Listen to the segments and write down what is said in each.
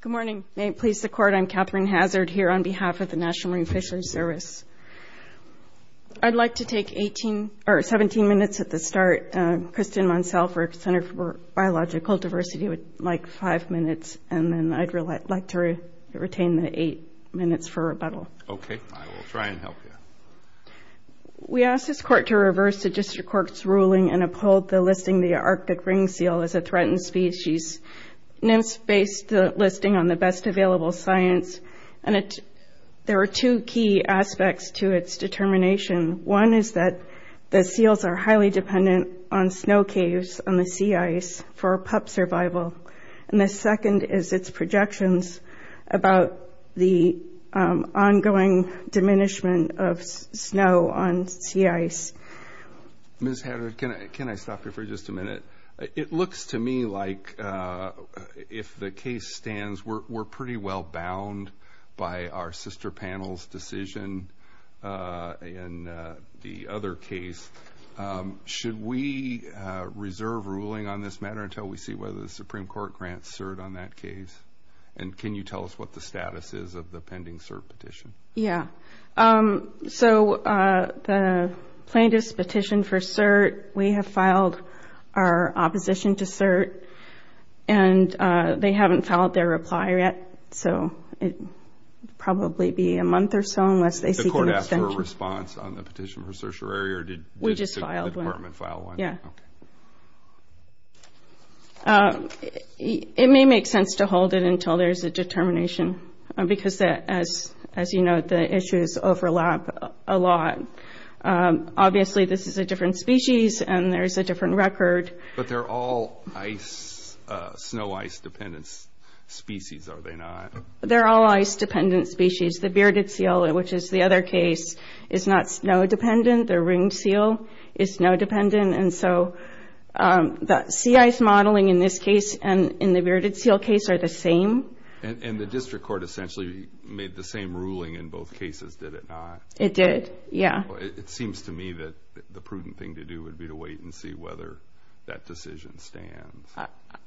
Good morning. May it please the Court, I'm Katherine Hazard here on behalf of the National Marine Fisheries Service. I'd like to take 17 minutes at the start. Kristin Monsalverg, Center for Biological Diversity would like 5 minutes and then I'd like to retain the 8 minutes for rebuttal. Okay, I will try and help you. We ask this Court to reverse the District Court's ruling and uphold the lifting the Arctic Ring Seal as a threatened species. NIMS based the listing on the best available science and there are two key aspects to its determination. One is that the seals are highly dependent on snow caves and the sea ice for pup survival and the second is its projections about the ongoing diminishment of snow on sea ice. Ms. Hazard, can I stop you for just a minute? It looks to me like if the case stands we're pretty well bound by our sister panel's decision and the other case. Should we reserve ruling on this matter until we see whether the Supreme Court grants cert on that case and can you tell us what the status is of the pending cert petition? Yeah, the plaintiff's petition for cert, we have filed our opposition to cert and they haven't filed their reply yet so it will probably be a month or so. Did the Court ask for a response on the petition for certiorari or did the Department file one? We just filed one. It may make sense to hold it until there's a determination because as you know, the issues overlap a lot. Obviously, this is a different species and there's a different record. But they're all snow ice dependent species, are they not? They're all ice dependent species. The bearded seal, which is the other case, is not snow dependent. The ringed seal is snow dependent and so the sea ice modeling in this case and in the bearded seal case are the same. And the District Court essentially made the same ruling in both cases, did it not? It did, yeah. It seems to me that the prudent thing to do would be to wait and see whether that decision stands.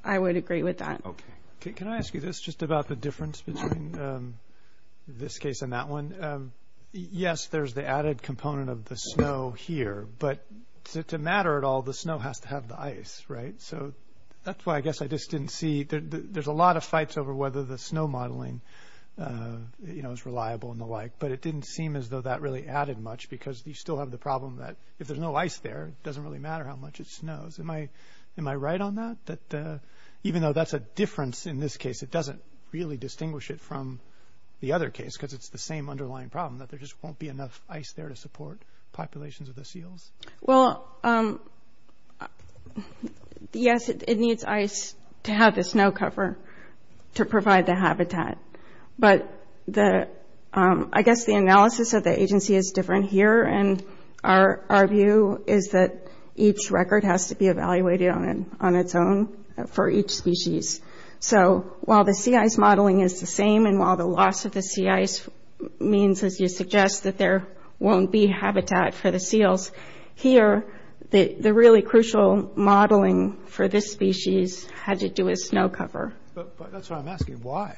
I would agree with that. Okay, can I ask you this just about the difference between this case and that one? Yes, there's the added component of the snow here but to matter at all, the snow has to have the ice, right? So that's why I guess I just didn't see that there's a lot of fights over whether the snow modeling is reliable and the like. But it didn't seem as though that really added much because you still have the problem that if there's no ice there, it doesn't really matter how much it snows. Am I right on that? That even though that's a difference in this case, it doesn't really distinguish it from the other case because it's the same underlying problem that there just won't be enough ice there to support populations of the seals? Well, yes, it needs ice to have the snow cover to provide the habitat. But I guess the analysis of the agency is different here and our view is that each record has to be evaluated on its own for each species. So while the sea ice modeling is the same and the loss of the sea ice means, as you suggest, that there won't be habitat for the seals, here, the really crucial modeling for this species had to do with snow cover. But that's what I'm asking, why?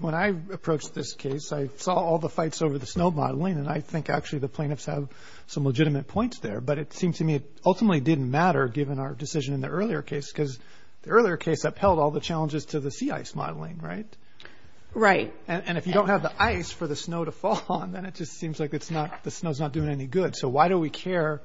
When I approached this case, I saw all the fights over the snow modeling and I think actually the plaintiffs have some legitimate points there. But it seems to me it ultimately didn't matter given our decision in the earlier case because the earlier case upheld all the right. And if you don't have the ice for the snow to fall on, then it just seems like it's not the snow's not doing any good. So why do we care?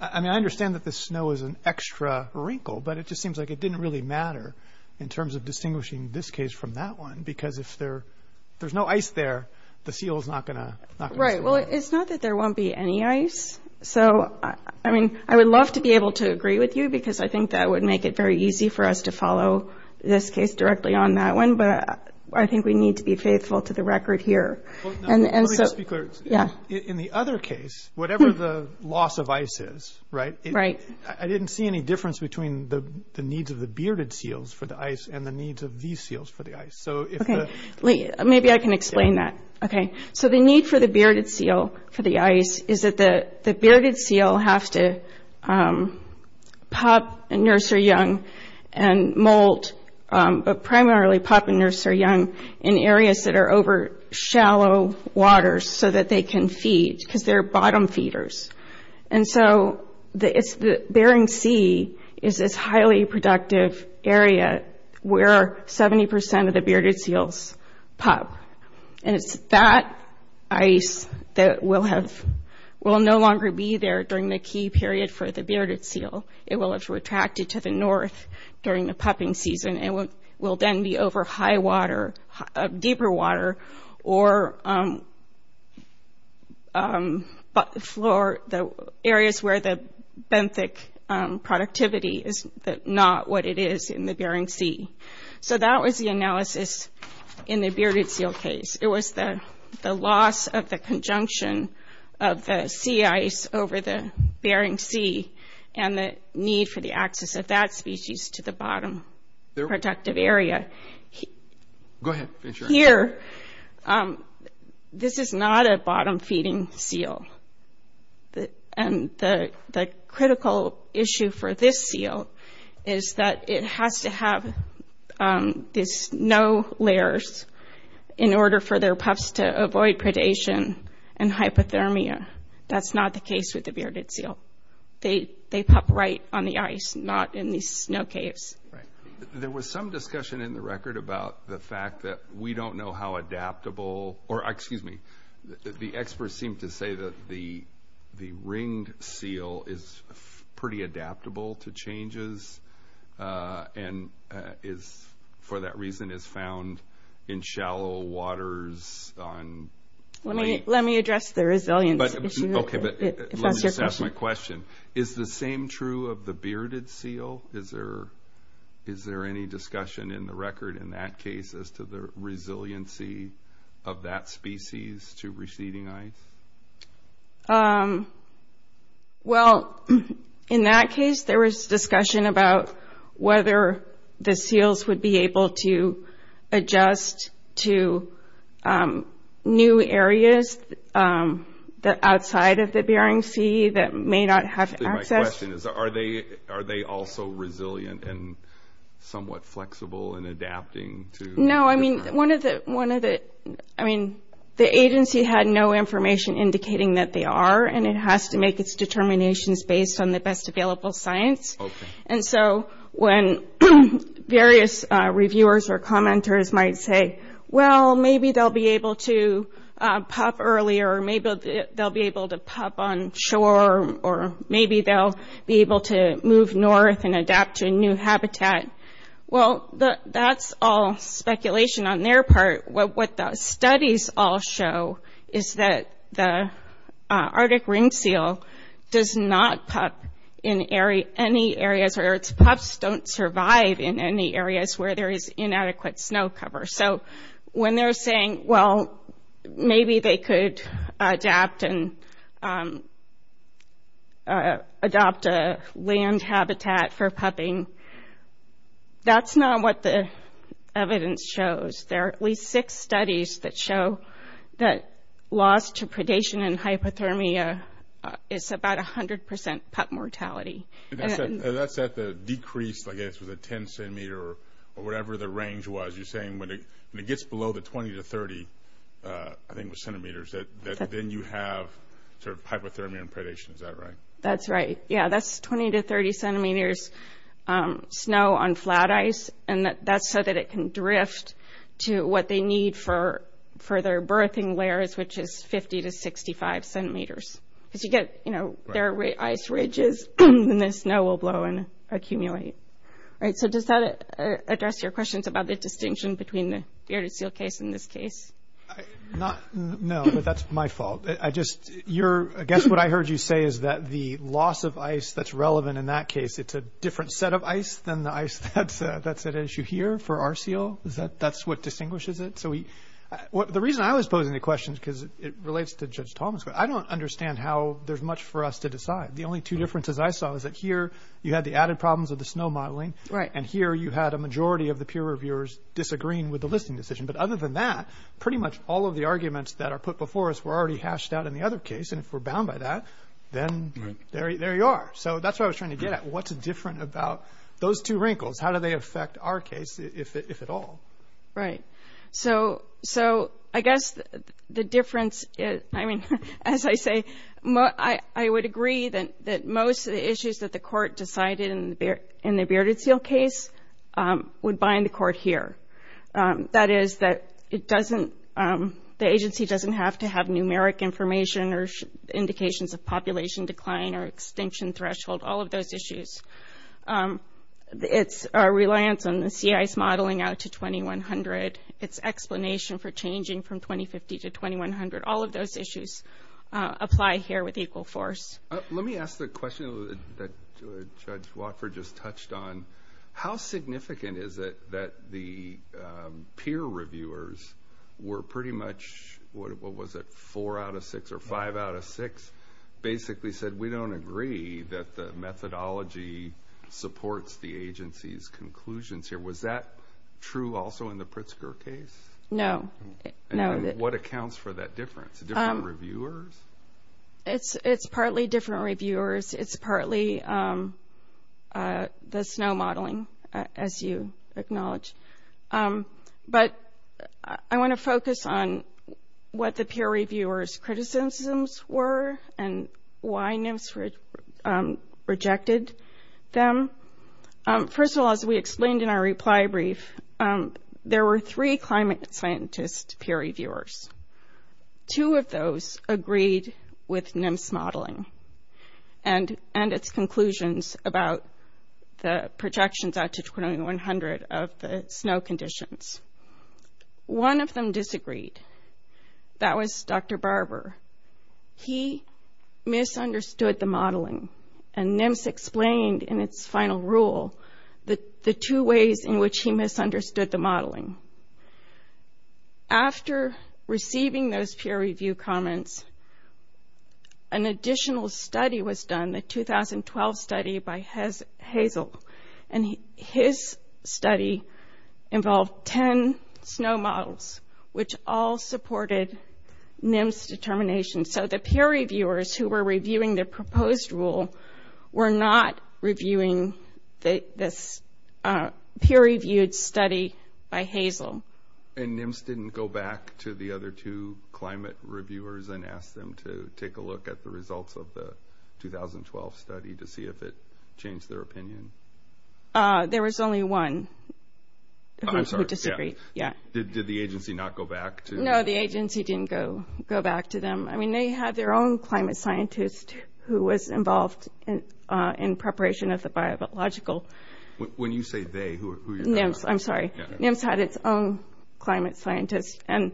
I mean, I understand that the snow is an extra wrinkle, but it just seems like it didn't really matter in terms of distinguishing this case from that one, because if there's no ice there, the seal is not going to. Right. Well, it's not that there won't be any ice. So, I mean, I would love to be able to agree with you because I think that would make it very easy for us to follow this case directly on that one. But I think we need to be faithful to the record here. In the other case, whatever the loss of ice is, right? I didn't see any difference between the needs of the bearded seals for the ice and the needs of these seals for the ice. So maybe I can explain that. OK, so the need for the bearded seal for the ice is that the bearded seal has to pup and nurse their young and molt, but primarily pup and nurse their young in areas that are over shallow waters so that they can feed, because they're bottom feeders. And so the Bering Sea is this highly productive area where 70% of the bearded seals pup. And it's that ice that will no longer be there during the key period for the bearded seal. It will have retracted to the north during the pupping season and will then be over high water, deeper water, or the areas where the benthic productivity is not what it is in the Bering Sea. So that was the analysis in the bearded seal case. It was the loss of the conjunction of the sea ice over the Bering Sea and the need for the access of that species to the bottom productive area. Here, this is not a bottom feeding seal. And the critical issue for this seal is that it has to have these snow layers in order for their pups to avoid predation and hypothermia. That's not the case with the bearded seal. They pup right on the ice, not in these snow caves. There was some discussion in the record about the fact that we don't know how adaptable, or excuse me, the experts seem to say that the ringed seal is pretty adaptable to changes and is, for that reason, is found in shallow waters. Let me address the resilience issue. Is the same true of the bearded seal? Is there any discussion in the record in that case as to the resiliency of that species to receding ice? Well, in that case, there was discussion about whether the seals would be able to adjust to new areas outside of the Bering Sea that may not have access. My question is, are they also resilient and somewhat flexible in adapting to? I mean, the agency had no information indicating that they are, and it has to make its determinations based on the best available science. And so when various reviewers or commenters might say, well, maybe they'll be able to pup earlier, or maybe they'll be able to pup on or maybe they'll be able to move north and adapt to a new habitat. Well, that's all speculation on their part. What the studies all show is that the Arctic ringed seal does not pup in any areas, or its pups don't survive in any areas where there is inadequate snow cover. So when they're saying, well, maybe they could adapt and adopt a land habitat for pupping, that's not what the evidence shows. There are at least six studies that show that loss to predation and hypothermia, it's about 100% pup mortality. That's at the decreased, I guess, the 10 centimeter or whatever the range was. You're saying when it gets below the 20 to 30, I think, centimeters, that then you have hypothermia and predation. Is that right? That's right. Yeah, that's 20 to 30 centimeters snow on flat ice, and that's so that it can drift to what they need for their birthing layers, which is 50 to 65 centimeters. If you get their ice ridges, then the snow will blow and accumulate. So does that address your questions about the distinction between the Arctic seal case in this case? No, that's my fault. I guess what I heard you say is that the loss of ice that's relevant in that case, it's a different set of ice than the ice that's at issue here for our seal. That's what distinguishes it. The reason I was posing the question is because it relates to Judge Thomas, but I don't understand how there's much for us to decide. The only two differences I saw is that here you had the added problems of the snow modeling, and here you had a majority of the peer reviewers disagreeing with the listing decision. But other than that, pretty much all of the arguments that are put before us were already hashed out in the other case, and if we're bound by that, then there you are. So that's what I was trying to get at. What's different about those two wrinkles? How do they affect our case, if at all? Right. So I guess the difference is, as I say, I would agree that most of the issues that the court decided in the bearded seal case would bind the court here. That is that the agency doesn't have to have numeric information or indications of population decline or extinction threshold, all of those issues. It's our reliance on the sea ice modeling out to 2100. It's explanation for changing from 2050 to 2100. All of those issues apply here with equal force. Let me ask the question that Judge Wofford just touched on. How significant is it that the peer reviewers were pretty much, what was it, four out of six or five out of six, basically said, we don't agree that the methodology supports the agency's conclusions here. Was that true also in the Pritzker case? No. What accounts for that difference? Different reviewers? It's partly different reviewers. It's partly the snow modeling, as you acknowledge. But I want to focus on what the peer reviewers' criticisms were and why NIMS rejected them. First of all, as we explained in our reply brief, there were three climate scientist peer reviewers. Two of those agreed with NIMS modeling and its conclusions about the projections out to 2100 of the snow conditions. One of them disagreed. That was Dr. Barber. He misunderstood the modeling and NIMS explained in its final rule the two ways in which he misunderstood the modeling. After receiving those peer review comments, an additional study was done, a 2012 study by Hazel. His study involved 10 snow models, which all supported NIMS determination. The peer reviewers who were reviewing the proposed rule were not reviewing this peer reviewed study by Hazel. NIMS didn't go back to the other two climate reviewers and ask them to take a look at the 2012 study to see if it changed their opinion. There was only one who disagreed. Yeah. Did the agency not go back to... No, the agency didn't go back to them. I mean, they had their own climate scientist who was involved in preparation of the biological... When you say they, who are you talking about? NIMS, I'm sorry. NIMS had its own climate scientist and...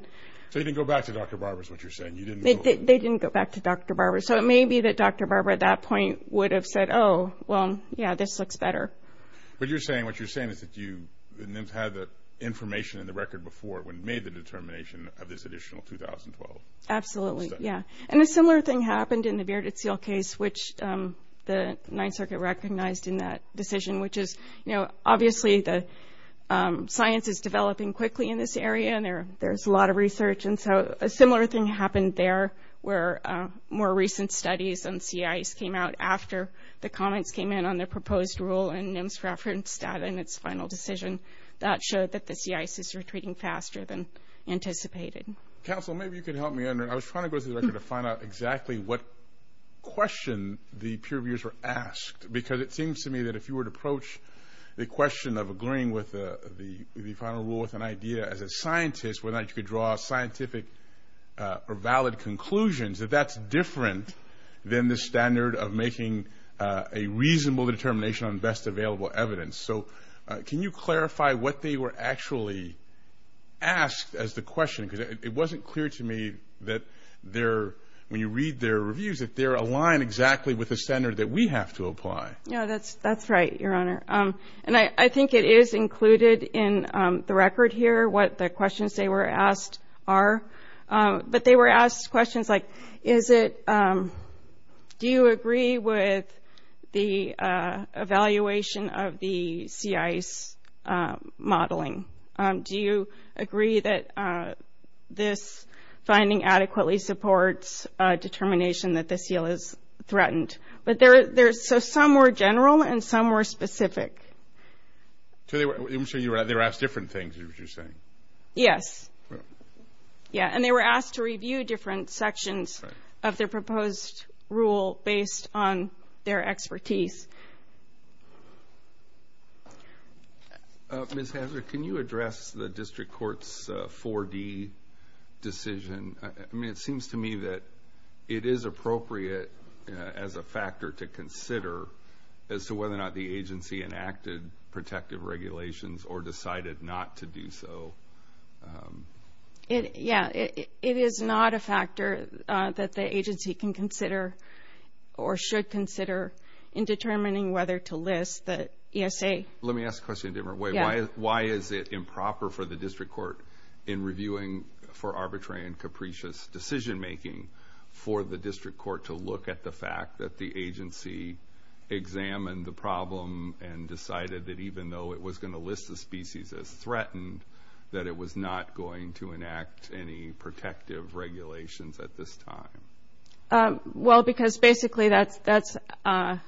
So you didn't go back to Dr. Barber is what you're saying. They didn't go back to Dr. Barber. So it may be that Dr. Barber at that point would have said, oh, well, yeah, this looks better. But what you're saying is that you had the information in the record before when you made the determination of this additional 2012. Absolutely. Yeah. And a similar thing happened in the Bearded Seal case, which the NITES circuit recognized in that decision, which is obviously the science is developing quickly in this area and there's a lot of research. And so a similar thing happened there where more recent studies on sea ice came out after the comments came in on the proposed rule and NIMS referenced that in its final decision that showed that the sea ice is retreating faster than anticipated. Counsel, maybe you can help me under... I was trying to go through the record to find out exactly what question the peer reviewers were asked, because it seems to me if you were to approach the question of agreeing with the final rule with an idea as a scientist, whether or not you could draw scientific or valid conclusions, that that's different than the standard of making a reasonable determination on the best available evidence. So can you clarify what they were actually asked as the question? Because it wasn't clear to me that when you read their reviews, that they're aligned exactly with the standard that we have to apply. Yeah, that's right, your honor. And I think it is included in the record here, what the questions they were asked are. But they were asked questions like, do you agree with the evaluation of the sea ice modeling? Do you agree that this finding adequately supports determination that this deal is threatened? But there's some more general and some more specific. So they were asked different things, is what you're saying? Yes. Yeah, and they were asked to review different sections of the proposed rule based on their expertise. Ms. Hazard, can you address the district court's 4D decision? I mean, it seems to me that it is appropriate as a factor to consider as to whether or not the agency enacted protective regulations or decided not to do so. Yeah, it is not a factor that the agency can consider or should consider in determining whether to list the ESA. Let me ask the question a different way. Why is it improper for the district court in reviewing for arbitrary and capricious decision making for the district court to look at the fact that the agency examined the problem and decided that even though it was going to list the species as threatened, that it was not going to enact any protective regulations at this time? Well, because basically the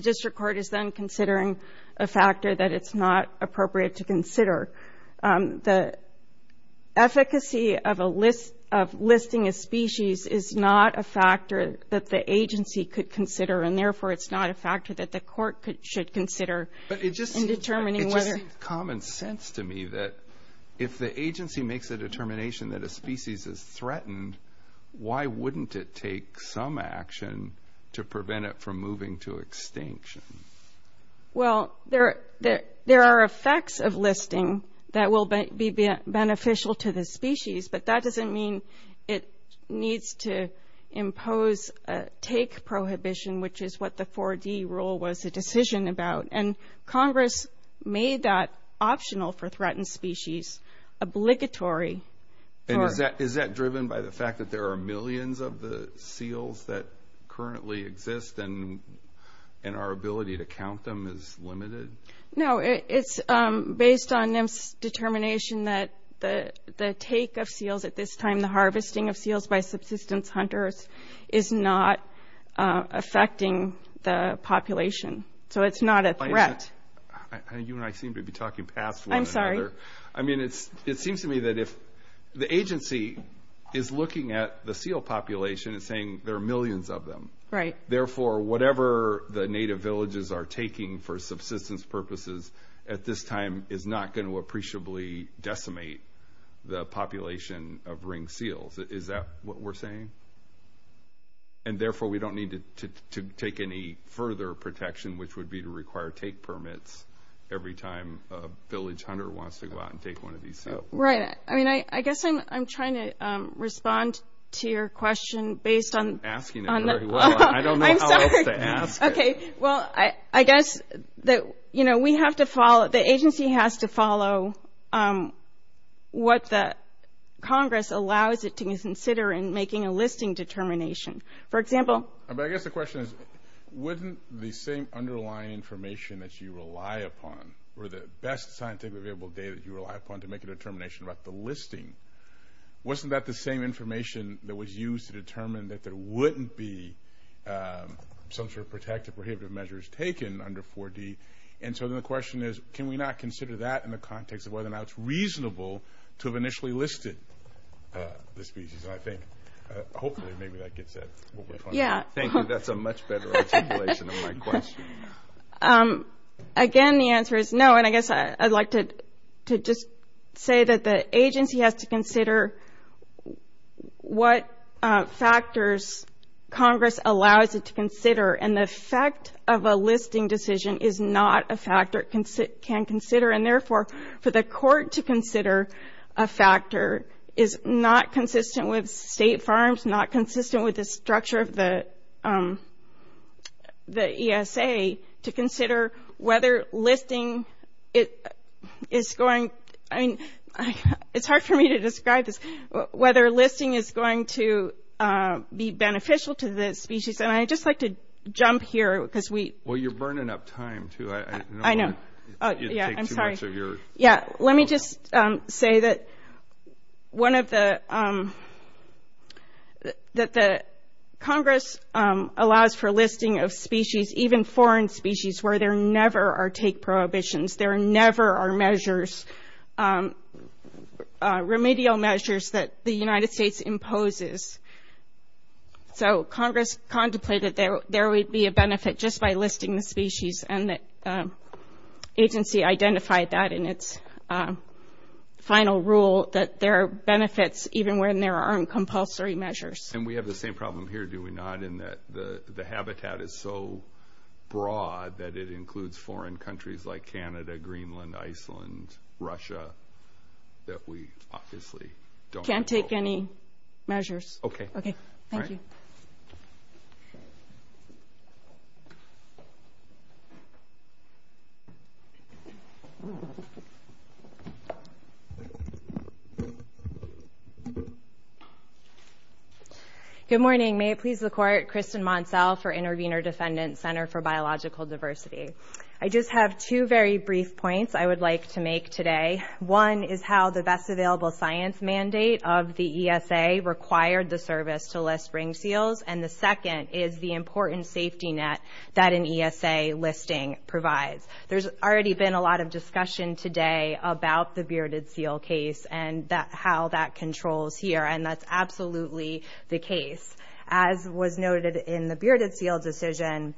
district court is then considering a factor that it's not appropriate to consider. The efficacy of listing a species is not a factor that the agency could consider, and therefore it's not a factor that the court should consider in determining whether... But it just seems common sense to me that if the agency makes a determination that a species is threatened, why wouldn't it take some action to prevent it from moving to extinction? Well, there are effects of listing that will be beneficial to the species, but that doesn't mean it needs to impose a take prohibition, which is what the 4D rule was a decision about. And obligatory. And is that driven by the fact that there are millions of the seals that currently exist and our ability to count them is limited? No, it's based on this determination that the take of seals at this time, the harvesting of seals by subsistence hunters is not affecting the population. So it's not a threat. You and I seem to be talking paths. I mean, it seems to me that if the agency is looking at the seal population and saying there are millions of them, therefore whatever the native villages are taking for subsistence purposes at this time is not going to appreciably decimate the population of ring seals. Is that what we're saying? And therefore we don't need to take any further protection, which would be to go out and take one of these seals. Right. I mean, I guess I'm trying to respond to your question based on... I'm asking it. I don't know how else to ask it. Okay. Well, I guess that we have to follow, the agency has to follow what the Congress allows it to consider in making a listing determination. For example... But I guess the question is, wouldn't the same underlying information that you rely upon or the best scientific available data that you rely upon to make a determination about the listing, wasn't that the same information that was used to determine that there wouldn't be some sort of protective prohibitive measures taken under 4D? And so then the question is, can we not consider that in the context of whether or not it's reasonable to have initially listed the species? I think, hopefully, maybe that gets it. We'll wait on it. Thank you. That's a much better articulation of my question. Again, the answer is no. And I guess I'd like to just say that the agency has to consider what factors Congress allows it to consider. And the effect of a listing decision is not a factor it can consider. And therefore, for the court to consider a factor is not consistent with state firms, not consistent with the structure of the ESA to consider whether listing is going... It's hard for me to describe this, whether listing is going to be beneficial to the species. And I'd just like to jump here because we... Well, you're burning up time too. I know. I know. Yeah, I'm sorry. Let me just say that Congress allows for listing of species, even foreign species, where there never are take prohibitions. There never are measures, remedial measures that the United States imposes. So Congress contemplated there would be a benefit just by listing the species and the agency identified that in its final rule that there are benefits even when there aren't compulsory measures. And we have the same problem here, do we not? In that the habitat is so broad that it includes foreign countries like Canada, Greenland, Iceland, Russia, that we obviously don't... Can't take any measures. Okay. Okay. Thank you. Good morning. May it please the court, Kristen Monselle for Intervenor Defendant Center for Biological Diversity. I just have two very brief points I would like to make today. One is how the best available science mandate of the ESA required the service to list ring seals. And the second is the important safety net that an ESA listing provides. There's already been a lot of discussion today about the bearded seal case and how that controls here. And that's absolutely the case. As was noted in the bearded seal decision,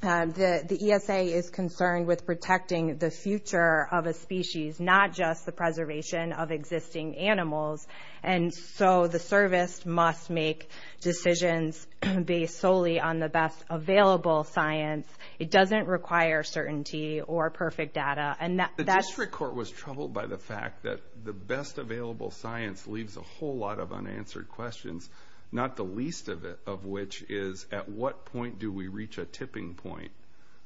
the ESA is concerned with protecting the future of a species, not just the preservation of existing animals. And so the service must make decisions based solely on the best available science. It doesn't require certainty or perfect data. The district court was troubled by the fact that the best available science leaves a whole lot of unanswered questions, not the least of which is at what point do we reach a tipping point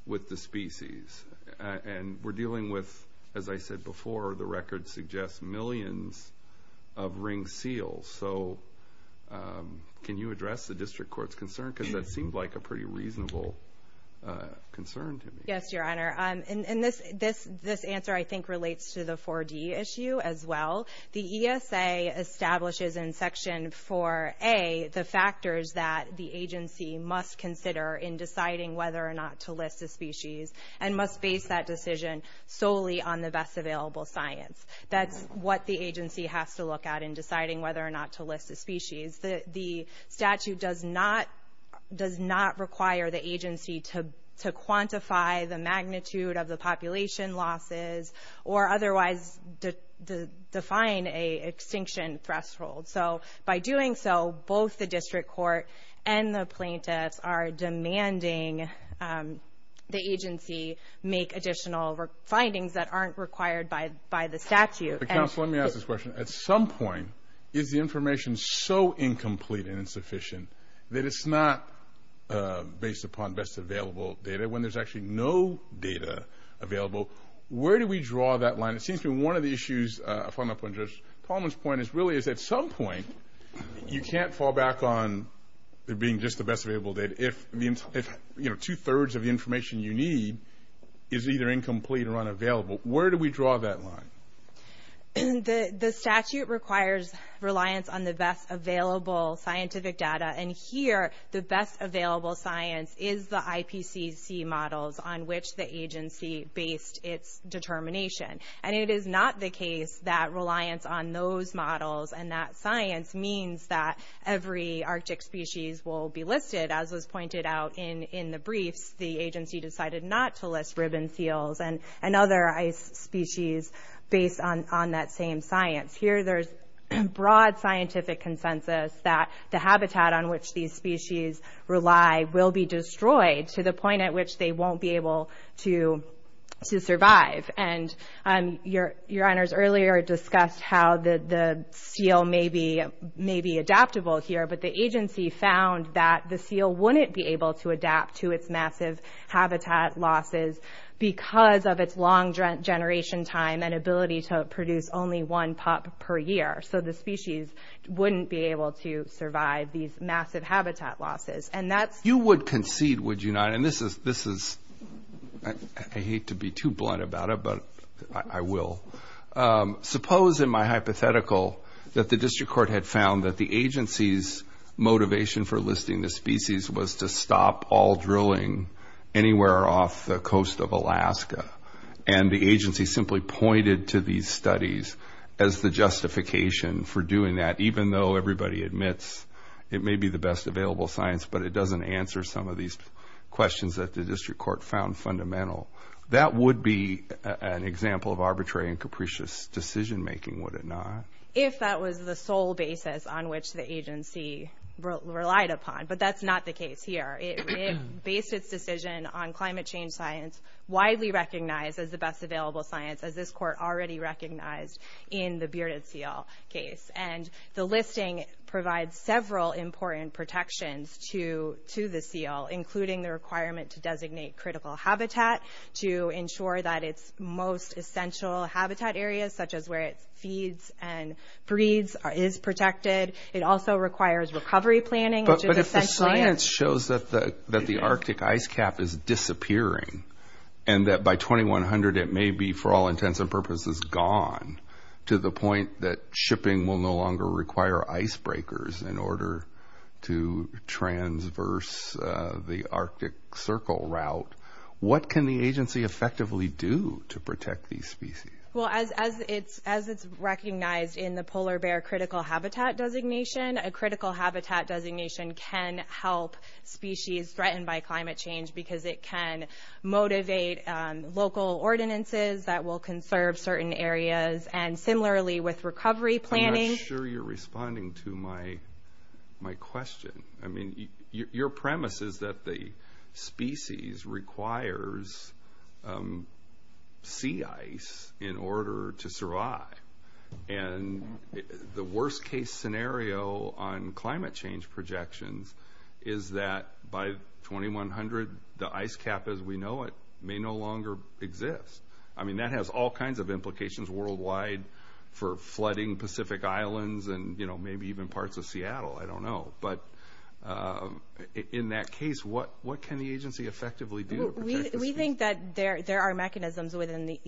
with the species? And we're dealing with, as I said before, the record suggests millions of ring seals. So can you address the district court's concern? Because that seems like a pretty reasonable concern to me. Yes, your honor. And this answer I think relates to the 4D issue as well. The ESA establishes in section 4A the factors that the agency must consider in deciding whether or not to list a species and must base that decision solely on the best available science. That's what the agency has to look at in deciding whether or not to list a species. The statute does not require the agency to quantify the magnitude of the population losses or otherwise define an extinction threshold. So by doing so, both the district court and the plaintiffs are demanding the agency make additional findings that aren't required by the statute. Counselor, let me ask this question. At some point, is the information so incomplete and insufficient that it's not based upon best available data? When there's actually no data available, where do we draw that line? It seems to me one of the issues, following up on Judge Coleman's point, is really is at some point you can't fall back on it being just the best available data. If two-thirds of the information you need is either incomplete or unavailable, where do we draw that line? The statute requires reliance on the best available scientific data. And here, the best available science is the IPCC models on which the agency based its determination. And it is not the case that reliance on those models and that science means that every Arctic species will be listed. As was pointed out in the brief, the agency decided not to list ribbon seals and other ice species based on that same science. Here, there's broad scientific consensus that the habitat on which these species rely will be destroyed to the point at which they won't be able to survive. And your honors earlier discussed how the seal may be adaptable here, but the agency found that the seal wouldn't be able to adapt to its massive habitat losses because of its long generation time and ability to produce only one pup per year. So, the species wouldn't be able to survive these massive habitat losses. You would concede, would you not, and this is, I hate to be too blunt about it, but I will, suppose in my hypothetical that the district court had found that the agency's listing the species was to stop all drilling anywhere off the coast of Alaska. And the agency simply pointed to these studies as the justification for doing that, even though everybody admits it may be the best available science, but it doesn't answer some of these questions that the district court found fundamental. That would be an example of arbitrary and capricious decision making, would it not? If that was the sole basis on which the agency relied upon, but that's not the case here. It based its decision on climate change science, widely recognized as the best available science, as this court already recognized in the bearded seal case. And the listing provides several important protections to the seal, including the requirement to designate critical habitat, to ensure that its most essential But if the science shows that the Arctic ice cap is disappearing and that by 2100 it may be, for all intents and purposes, gone to the point that shipping will no longer require ice breakers in order to transverse the Arctic circle route, what can the agency effectively do to protect these species? Well, as it's recognized in the polar bear critical habitat designation, a critical habitat designation can help species threatened by climate change because it can motivate local ordinances that will conserve certain areas. And similarly with recovery planning. I'm not sure you're responding to my question. I mean, your premise is that the scenario on climate change projections is that by 2100, the ice cap as we know it may no longer exist. I mean, that has all kinds of implications worldwide for flooding Pacific islands and maybe even parts of Seattle. I don't know. But in that case, what can the agency effectively do? We think that there are mechanisms within the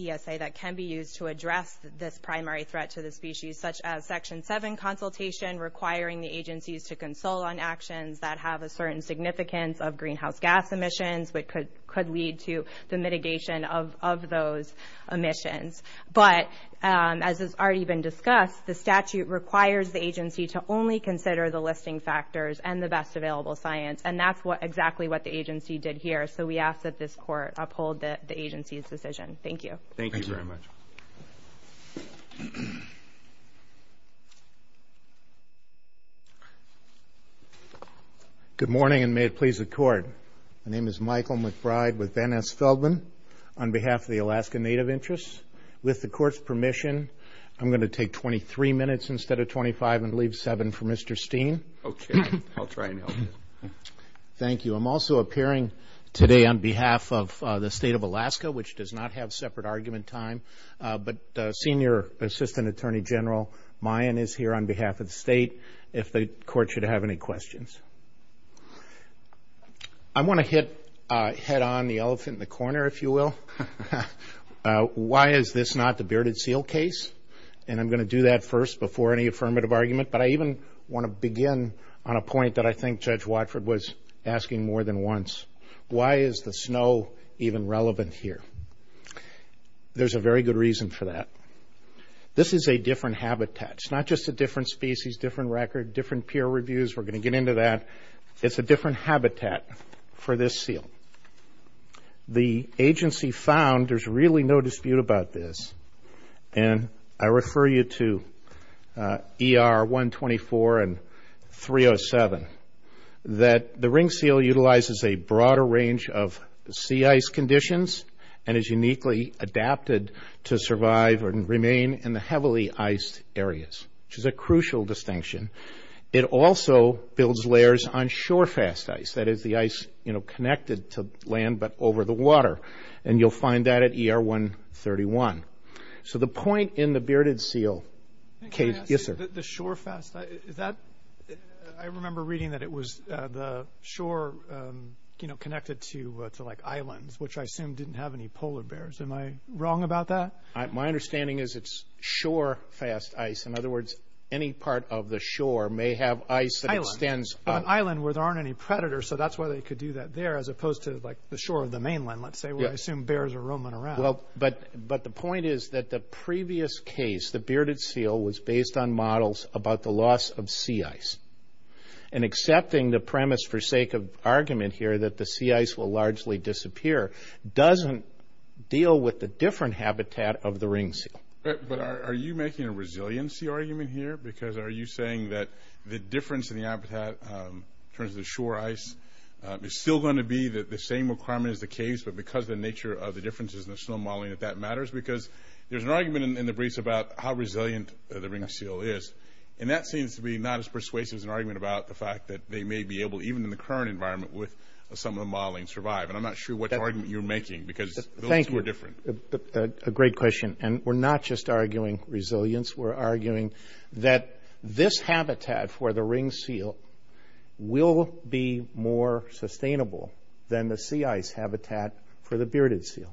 primary threat to the species such as section 7 consultation requiring the agencies to consult on actions that have a certain significance of greenhouse gas emissions, which could lead to the mitigation of those emissions. But as has already been discussed, the statute requires the agency to only consider the listing factors and the best available science. And that's exactly what the agency did here. So we ask that this court uphold the agency's decision. Thank you. Thank you very much. Good morning, and may it please the court. My name is Michael McBride with Van Ness Feldman on behalf of the Alaska Native Interests. With the court's permission, I'm going to take 23 minutes instead of 25 and leave seven for Mr. Steen. Okay, I'll try and help you. Thank you. I'm also appearing today on behalf of the state of Alaska, which does not have separate argument time. But Senior Assistant Attorney General Mayen is here on behalf of the state, if the court should have any questions. I want to hit head on the elephant in the corner, if you will. Why is this not the bearded seal case? And I'm going to do that first before any affirmative argument. But I even want to begin on a point that I think Judge Watford was asking more than once. Why is the snow even relevant here? There's a very good reason for that. This is a different habitat. It's not just a different species, different record, different peer reviews. We're going to get into that. It's a different habitat for this seal. The agency found, there's really no dispute about this, and I refer you to ER 124 and 307, that the ringed seal utilizes a broader range of sea ice conditions and is uniquely adapted to survive and remain in the heavily iced areas, which is a crucial distinction. It also builds layers on shore fast ice, that is the ice connected to land but over the water. And you'll find that at ER 131. So the point in the bearded seal case... The shore fast, I remember reading that it was the shore connected to like islands, which I assume didn't have any polar bears. Am I wrong about that? My understanding is it's shore fast ice. In other words, any part of the shore may have ice that extends... An island where there aren't any predators, so that's why they could do that there, as opposed to like the shore of the mainland, let's say, where I assume bears are roaming around. But the point is that the previous case, the bearded seal was based on models about the loss of sea ice. And accepting the premise for sake of argument here, that the sea ice will largely disappear, doesn't deal with the different habitat of the ringed seal. But are you making a resiliency argument here? Because are you saying that the difference in the habitat in terms of the shore ice is still going to be the same requirement as the case, but because the nature of the differences in the snow modeling that matters? Because there's an argument in the briefs about how resilient the ringed seal is. And that seems to be not as persuasive as an argument about the fact that they may be able, even in the current environment, with some of the modeling survive. And I'm not sure what argument you're making, because those are different. Thank you. A great question. And we're not just arguing resilience, we're arguing that this habitat for the ringed seal will be more sustainable than the sea ice habitat for the bearded seal.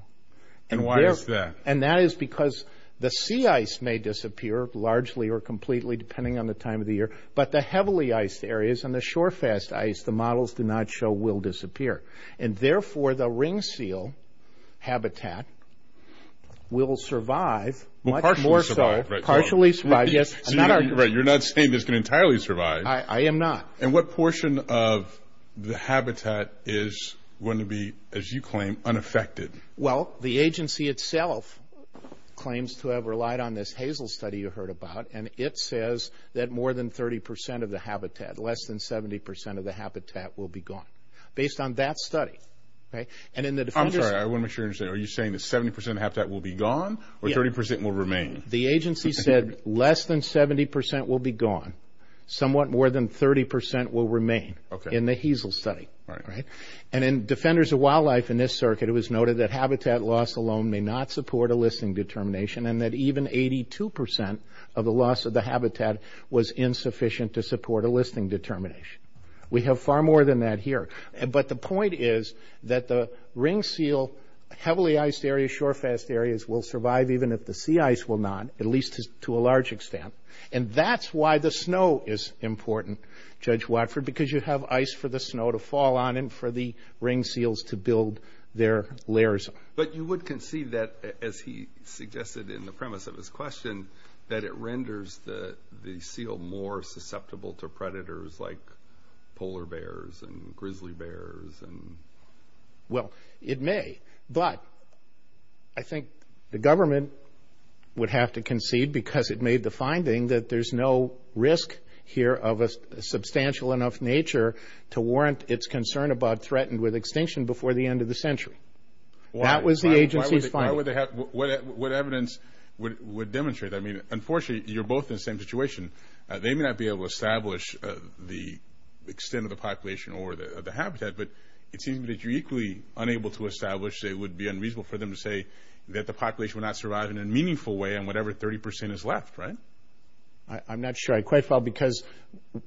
And why is that? And that is because the sea ice may disappear largely or completely depending on the time of the year. But the heavily iced areas and the shorefest ice, the models do not show will disappear. And therefore, the ringed seal habitat will survive, much more so, partially survive, Right, you're not saying it's going to entirely survive. I am not. And what portion of the habitat is going to be, as you claim, unaffected? Well, the agency itself claims to have relied on this Hazel study you heard about, and it says that more than 30 percent of the habitat, less than 70 percent of the habitat will be gone, based on that study. And in the I'm sorry, I want to make sure you understand, are you saying that 70 percent of the habitat will be gone, or 30 percent will remain? The agency said less than 70 percent will be gone, somewhat more than 30 percent will remain in the Hazel study. And then Defenders of Wildlife in this circuit, it was noted that habitat loss alone may not support a listing determination, and that even 82 percent of the loss of the habitat was insufficient to support a listing determination. We have far more than that here. But the point is that the ringed seal, heavily iced areas, shorefest areas, will survive even if the sea ice will not, at least to a large extent. And that's why the snow is important, Judge Watford, because you have ice for the snow to fall on and for the ringed seals to build their lairs. But you would concede that, as he suggested in the premise of his question, that it renders the seal more susceptible to predators like polar bears and grizzly bears and... Well, it may, but I think the government would have to concede, because it made the finding that there's no risk here of a substantial enough nature to warrant its concern about threatened with extinction before the end of the century. That was the agency's finding. Why would they have... What evidence would demonstrate that? I mean, unfortunately, you're both in the same situation. They may not be able to establish the extent of the population or the habitat, but it seems that you're equally unable to establish that it would be unreasonable for them to say that the population will not survive in a meaningful way in whatever 30% is left, right? I'm not sure. I'm quite flabbergasted, because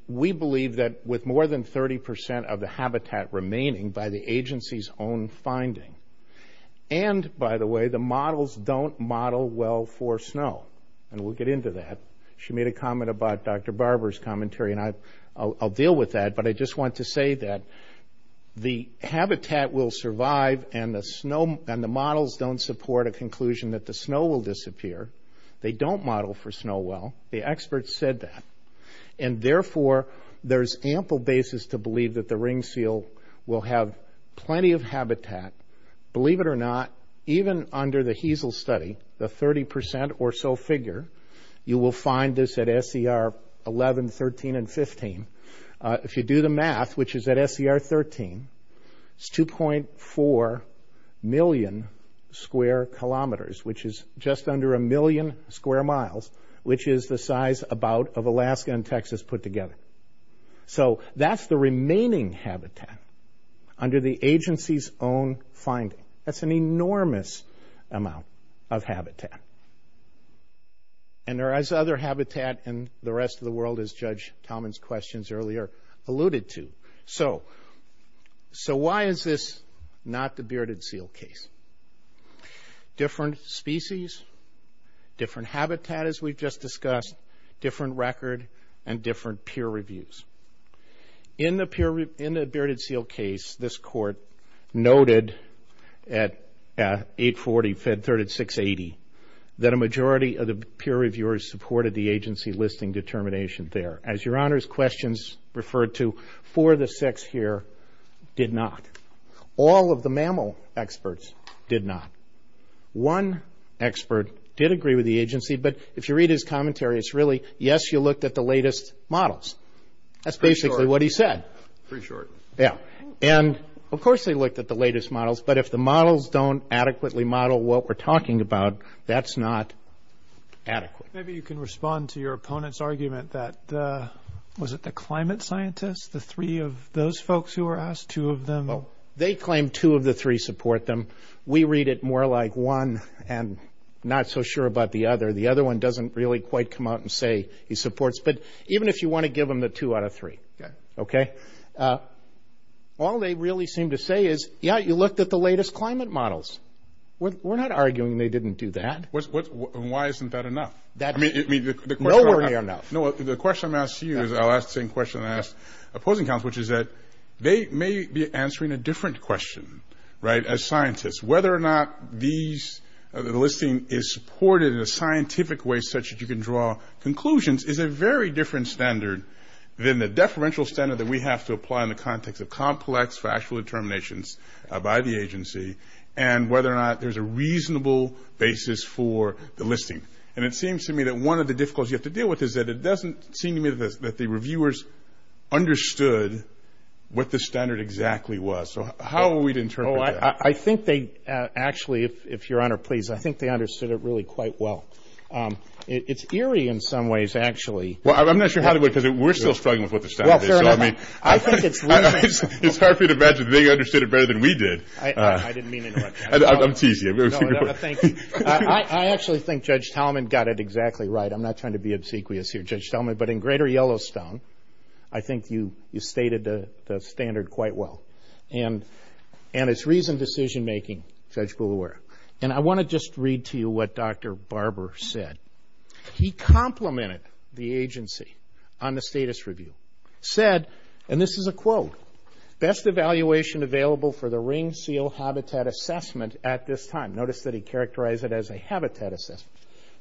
we believe that with more than 30% of the habitat remaining by the agency's own finding, and by the way, the models don't model well for snow, and we'll get into that. She made a comment about Dr. Barber's commentary, and I'll deal with that, but I just want to say that the habitat will survive, and the models don't support a conclusion that the snow will disappear. They don't model for snow well. The experts said that, and therefore, there's ample basis to believe that the ring seal will have plenty of habitat. Believe it or not, even under the HESL study, the 30% or so figure, you will find this at SDR 11, 13, and 15. If you do the math, which is at SDR 13, it's 2.4 million square kilometers, which is just under a million square miles, which is the size about of Alaska and Texas put together. So that's the remaining habitat under the agency's own finding. That's an enormous amount of habitat, and there is other habitat in the rest of the world, as Judge Tomlin's questions earlier alluded to. So why is this not the bearded seal case? Different species, different habitat, as we've just discussed, different record, and different peer reviews. In the bearded seal case, this court noted at 840, fed 3680, that a majority of the peer reviewers supported the agency listing determination there. As Your Honor's questions referred to, four of the six here did not. All of the mammal experts did not. One expert did agree with the agency, but if you read his commentary, it's really, yes, you looked at the latest models. That's basically what he said. Pretty short. Yeah, and of course they looked at the latest models, but if the models don't adequately model what we're talking about, that's not adequate. Maybe you can respond to your opponent's argument that, was it the climate scientists, the three of those folks who were asked, two of them? They claimed two of the three support them. We read it more like one and not so sure about the other. The other one doesn't really quite come out and say he supports, but even if you want to give them the two out of three. Okay. All they really seem to say is, yeah, you looked at the latest climate models. We're not arguing they didn't do that. Why isn't that enough? The question I'm asking you is I'll ask the same question I asked opposing counsel, which is that they may be answering a different question, right? As scientists, whether or not the listing is supported in a scientific way such that you can draw conclusions is a very different standard than the deferential standard that we have to apply in the context of complex factual determinations by the agency and whether or not there's a reasonable basis for the listing. It seems to me that one of the difficulties you have to deal with is that it doesn't seem to me that the reviewers understood what the standard exactly was. How are we to interpret that? I think they actually, if your honor please, I think they understood it really quite well. It's eerie in some ways, actually. Well, I'm not sure how to look at it. We're still struggling with what the standard is. I mean, I think it's hard for you to imagine they understood it better than we did. I didn't mean anything like that. I'm teasing you. I actually think Judge Talman got it exactly right. I'm not trying to be obsequious here, Judge Talman, but in greater Yellowstone, I think you stated the standard quite well. And it's reasoned decision making, Judge Boulware. And I want to just read to you what Dr. Barber said. He complimented the agency on the status review. Said, and this is a quote, best evaluation available for the ring seal habitat assessment at this time. Notice that he characterized it as a habitat assessment.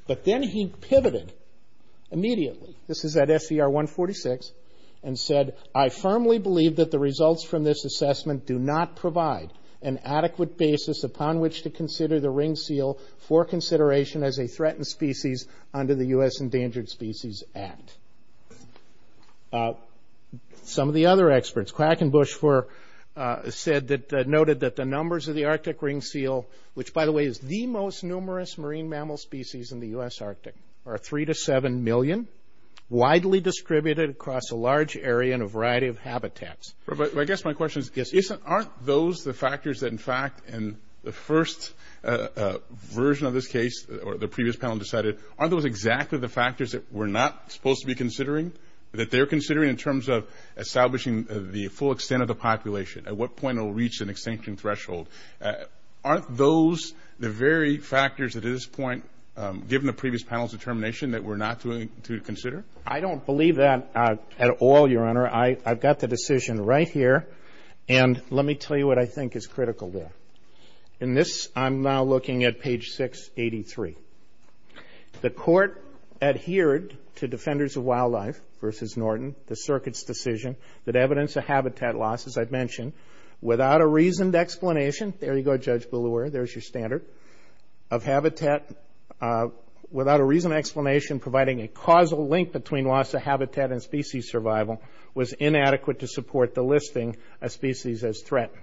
But then he pivoted immediately. This is at SCR 146 and said, I firmly believe that the results from this assessment do not provide an adequate basis upon which to consider the ring seal for consideration as a threatened species under the U.S. Endangered Species Act. Some of the other experts, Crack and Bush said that noted that the numbers of the Arctic ring seal, which by the way is the most numerous marine mammal species in the U.S. Arctic, are three to seven million, widely distributed across a large area and a variety of habitats. But I guess my question is, aren't those the factors that in fact, in the first version of this case, or the previous panel decided, aren't those exactly the factors that we're not supposed to be considering, that they're considering in terms of establishing the full extent of the population? At what point it will reach an extinction threshold? Aren't those the very factors at this point, given the previous panel's determination that we're not going to consider? I don't believe that at all, Your Honor. I've got the decision right here. And let me tell you what I think is critical there. In this, I'm now looking at page 683. The court adhered to Defenders of Wildlife versus Norton, the circuit's decision that evidence of habitat loss, as I've mentioned, without a reasoned explanation, there you go, providing a causal link between loss of habitat and species survival, was inadequate to support the listing of species as threatened.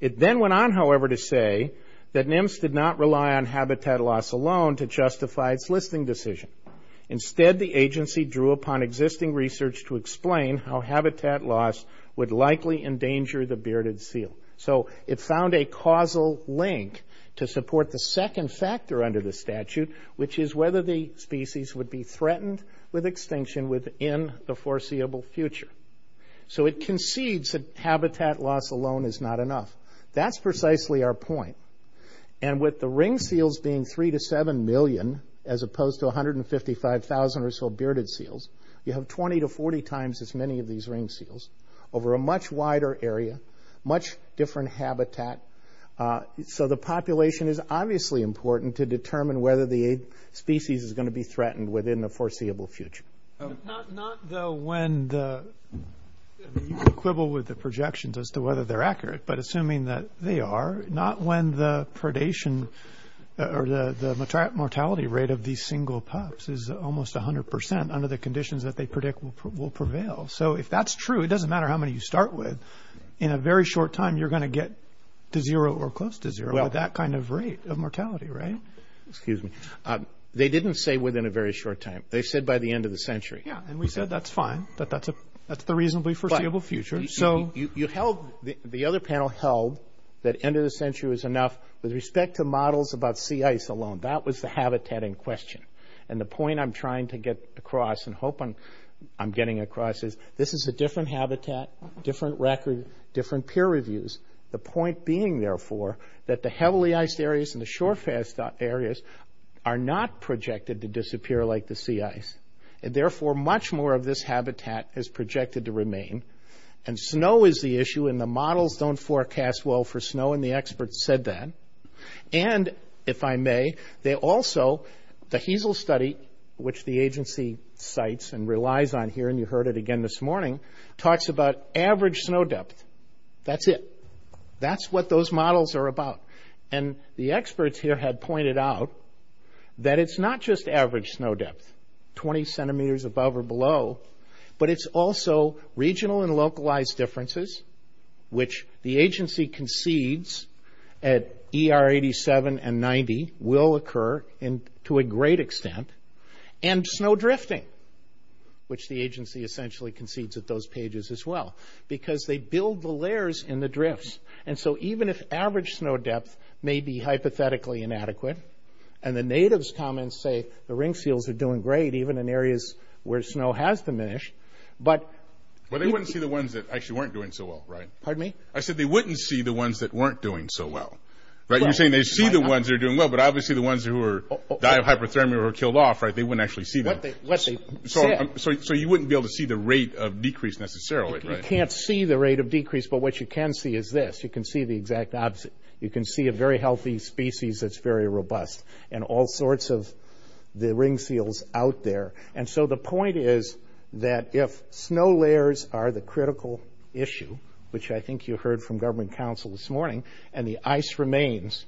It then went on, however, to say that NIMS did not rely on habitat loss alone to justify its listing decision. Instead, the agency drew upon existing research to explain how habitat loss would likely endanger the bearded seal. So it found a causal link to support the second factor under the statute, which is whether the species would be threatened with extinction within the foreseeable future. So it concedes that habitat loss alone is not enough. That's precisely our point. And with the ring seals being 3 to 7 million, as opposed to 155,000 or so bearded seals, you have 20 to 40 times as many of these ring seals in your area, much different habitat. So the population is obviously important to determine whether the species is going to be threatened within the foreseeable future. Not though when the...equivalent with the projections as to whether they're accurate, but assuming that they are, not when the predation or the mortality rate of these single pups is almost 100% under the conditions that they predict will prevail. So if that's true, it doesn't matter how many you start with, in a very short time, you're going to get to zero or close to zero at that kind of rate of mortality, right? Excuse me. They didn't say within a very short time. They said by the end of the century. Yeah. And we said that's fine. But that's the reasonably foreseeable future. So you held...the other panel held that end of the century was enough with respect to models about sea ice alone. That was the habitat in question. And the point I'm trying to get across and hoping I'm getting across is this is a different habitat, different record, different peer reviews. The point being, therefore, that the heavily iced areas and the shore fast areas are not projected to disappear like the sea ice. And therefore, much more of this habitat is projected to remain. And snow is the issue and the models don't forecast well for snow and the experts said that. And if I may, they also...the HESEL study, which the agency cites and relies on here, and you heard it again this morning, talks about average snow depth. That's it. That's what those models are about. And the experts here had pointed out that it's not just average snow depth, 20 centimeters above or below, but it's also regional and localized differences, which the agency concedes at ER87 and 90 will occur to a great extent, and snow drifting, which the agency essentially concedes at those pages as well, because they build the layers in the drifts. And so even if average snow depth may be hypothetically inadequate, and the natives' comments say the ring seals are doing great even in areas where snow has diminished, but... Well, they wouldn't see the ones that actually weren't doing so well, right? Pardon me? I said they wouldn't see the ones that weren't doing so well, right? You're saying they see the ones that are doing well, but obviously the ones who are die of hyperthermia or killed off, right, they wouldn't actually see them. So you wouldn't be able to see the rate of decrease necessarily. You can't see the rate of decrease, but what you can see is this. You can see the exact opposite. You can see a very healthy species that's very robust and all sorts of the ring seals out there. And so the point is that if snow layers are the and the ice remains,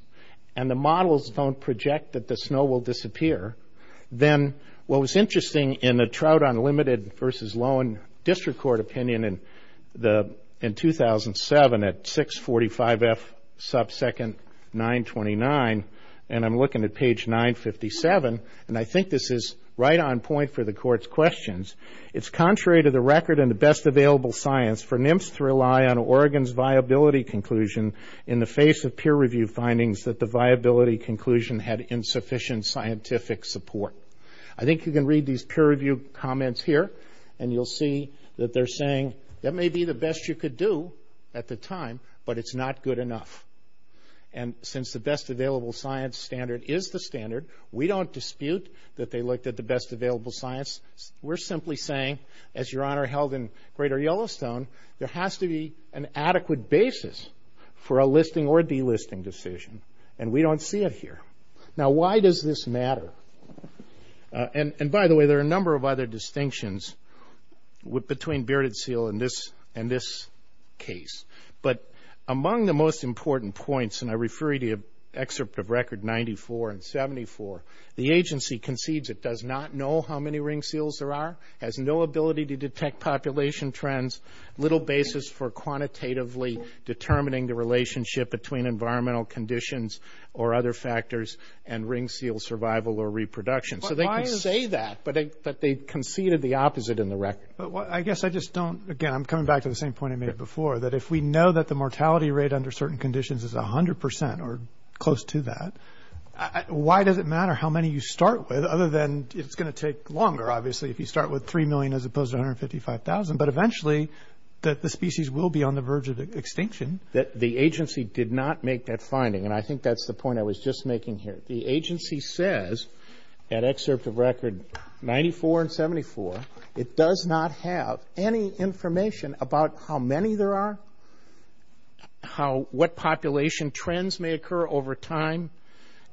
and the models don't project that the snow will disappear, then what was interesting in the Trout Unlimited versus Loewen District Court opinion in 2007 at 645F subsecond 929, and I'm looking at page 957, and I think this is right on point for the court's questions. It's contrary to the record and the best available science for NIMS to rely on Oregon's viability conclusion in the face of peer review findings that the viability conclusion had insufficient scientific support. I think you can read these peer review comments here, and you'll see that they're saying that may be the best you could do at the time, but it's not good enough. And since the best available science standard is the standard, we don't dispute that they looked at the best available science. We're simply saying, as Your Honor held in Greater Yellowstone, there has to be an adequate basis for a listing or delisting decision, and we don't see it here. Now, why does this matter? And by the way, there are a number of other distinctions between bearded seal and this case, but among the most important points, and I refer you to excerpt of record 94 and 74, the agency concedes it does not how many ring seals there are, has no ability to detect population trends, little basis for quantitatively determining the relationship between environmental conditions or other factors and ring seal survival or reproduction. So they can say that, but they conceded the opposite in the record. I guess I just don't, again, I'm coming back to the same point I made before, that if we know that the mortality rate under certain conditions is 100% or close to that, why does it matter how many you start with, other than it's going to take longer, obviously, if you start with 3 million as opposed to 155,000, but eventually the species will be on the verge of extinction. The agency did not make that finding, and I think that's the point I was just making here. The agency says, in excerpt of record 94 and 74, it does not have any information about how many there are, what population trends may occur over time,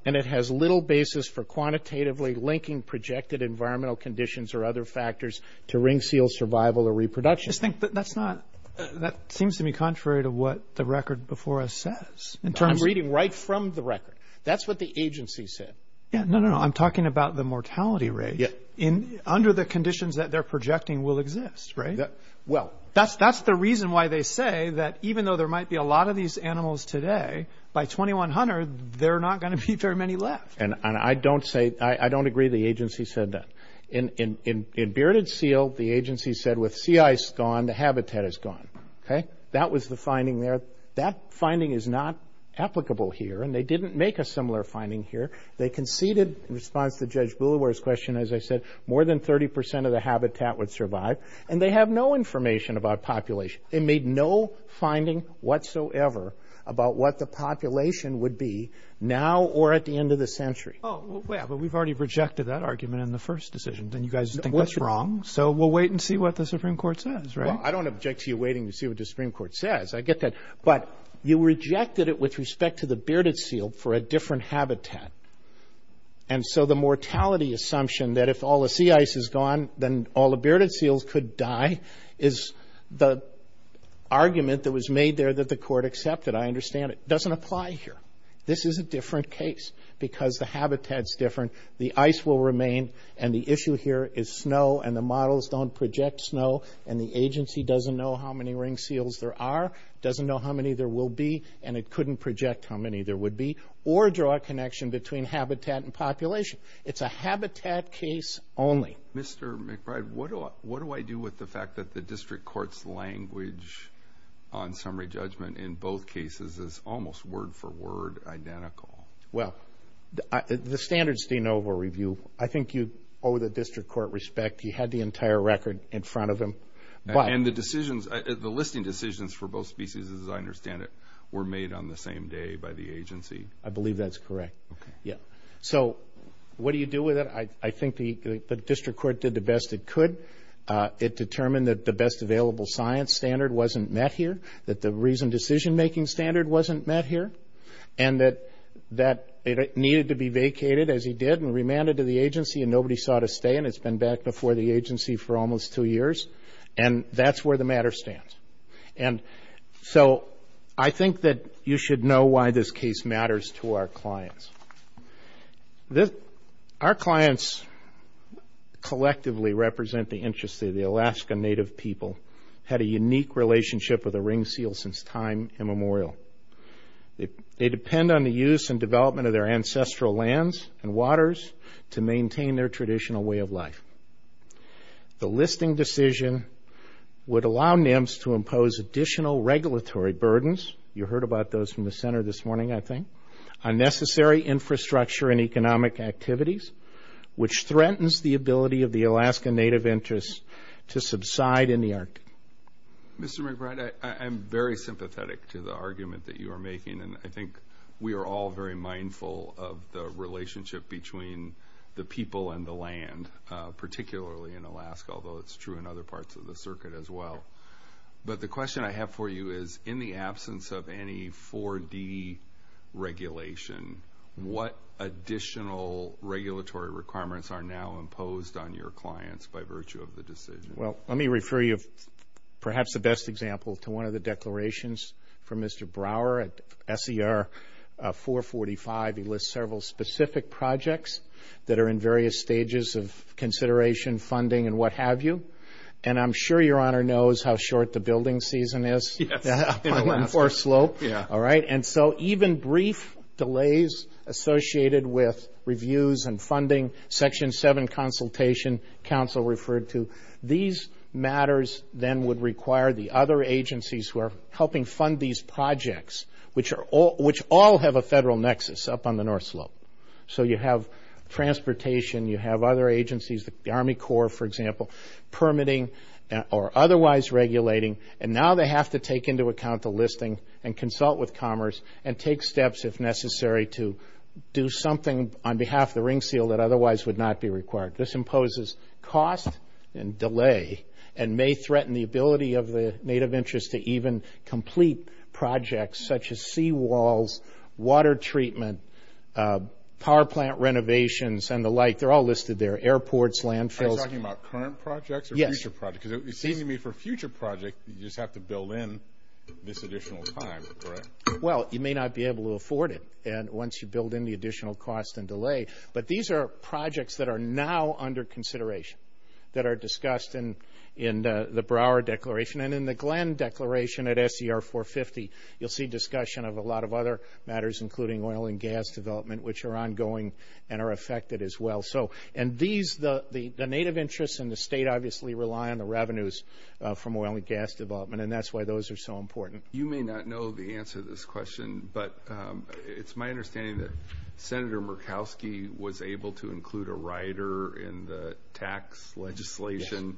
and it has little basis for quantitatively linking projected environmental conditions or other factors to ring seal survival or reproduction. But that's not, that seems to be contrary to what the record before us says. I'm reading right from the record. That's what the agency said. Yeah, no, no, I'm talking about the mortality rate under the conditions that they're projecting will exist, right? Well, that's the reason why they say that even though there might be a lot of these animals today, by 2100, there are not going to be very many left. And I don't say, I don't agree the agency said that. In bearded seal, the agency said with sea ice gone, the habitat is gone. Okay, that was the finding there. That finding is not applicable here, and they didn't make a similar finding here. They conceded in response to Judge Boulevard's question, as I said, more than 30% of the habitat would survive, and they have no information about population. It made no finding whatsoever about what the population would be now or at the end of the century. Oh, well, we've already rejected that argument in the first decision. Then you guys think that's wrong. So we'll wait and see what the Supreme Court says, right? I don't object to you waiting to see what the Supreme Court says. I get that. But you rejected it with respect to bearded seal for a different habitat. And so the mortality assumption that if all the sea ice is gone, then all the bearded seals could die is the argument that was made there that the court accepted. I understand it doesn't apply here. This is a different case because the habitat's different. The ice will remain, and the issue here is snow, and the models don't project snow, and the agency doesn't know how many ring seals there are, doesn't know how many there will be, and it couldn't project how many there would be or draw a connection between habitat and population. It's a habitat case only. Mr. McBride, what do I do with the fact that the district court's language on summary judgment in both cases is almost word for word identical? Well, the standards de novo review, I think you owe the district court respect. He had the entire record in front of him. And the decisions, the listing decisions for both species, as I understand it, were made on the same day by the agency. I believe that's correct. So what do you do with it? I think the district court did the best it could. It determined that the best available science standard wasn't met here, that the reason decision-making standard wasn't met here, and that it needed to be vacated, as he did, and remanded to the agency, and nobody saw it and it's been back before the agency for almost two years, and that's where the matter stands. And so I think that you should know why this case matters to our clients. Our clients collectively represent the interest of the Alaska Native people, had a unique relationship with the ring seal since time immemorial. They depend on the use and development of their ancestral lands and waters to maintain their traditional way of life. The listing decision would allow NIMS to impose additional regulatory burdens. You heard about those from the center this morning, I think. Unnecessary infrastructure and economic activities, which threatens the ability of the Alaska Native interests to subside in the Arctic. Mr. McBride, I'm very sympathetic to the argument that you are making, and I think we are all very mindful of the relationship between the people and the land, particularly in Alaska, although it's true in other parts of the circuit as well. But the question I have for you is, in the absence of any 4D regulation, what additional regulatory requirements are now imposed on your clients by virtue of the decision? Well, let me refer you, perhaps the best example, to one of the declarations from Mr. Brower at SER 445. He lists several specific projects that are in various stages of consideration, funding, and what have you. And I'm sure your honor knows how short the building season is for a slope, all right? And so even brief delays associated with reviews and funding, Section 7 Consultation Council referred to, these matters then would require the other agencies who fund these projects, which all have a federal nexus up on the North Slope. So you have transportation, you have other agencies, the Army Corps, for example, permitting or otherwise regulating, and now they have to take into account the listing and consult with Commerce and take steps, if necessary, to do something on behalf of the ring seal that otherwise would not be required. This imposes cost and delay and may threaten the ability of the Native interests to even projects such as seawalls, water treatment, power plant renovations, and the like. They're all listed there, airports, landfills. Are you talking about current projects or future projects? Because it seems to me for future projects, you just have to build in this additional time, correct? Well, you may not be able to afford it. And once you build in the additional cost and delay, but these are projects that are now under consideration, that are discussed in the Brouwer Declaration and in the Glenn Declaration at SDR 450. You'll see discussion of a lot of other matters, including oil and gas development, which are ongoing and are affected as well. So, and these, the Native interests in the state obviously rely on the revenues from oil and gas development, and that's why those are so important. You may not know the answer to this question, but it's my understanding that Senator Murkowski was able to include a tax legislation.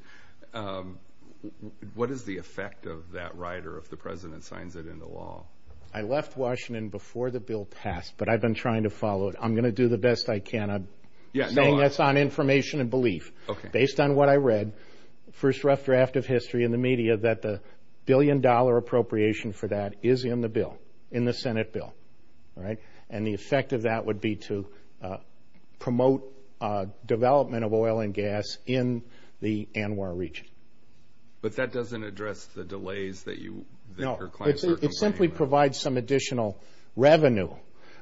What is the effect of that, Ryder, if the president signs it into law? I left Washington before the bill passed, but I've been trying to follow it. I'm going to do the best I can. I'm saying this on information and belief. Based on what I read, first rough draft of history in the media, that the billion dollar appropriation for that is in the bill, in the Senate bill, right? And the effect of that would be to promote development of oil and gas in the Anwar region. But that doesn't address the delays that you. No, it simply provides some additional revenue,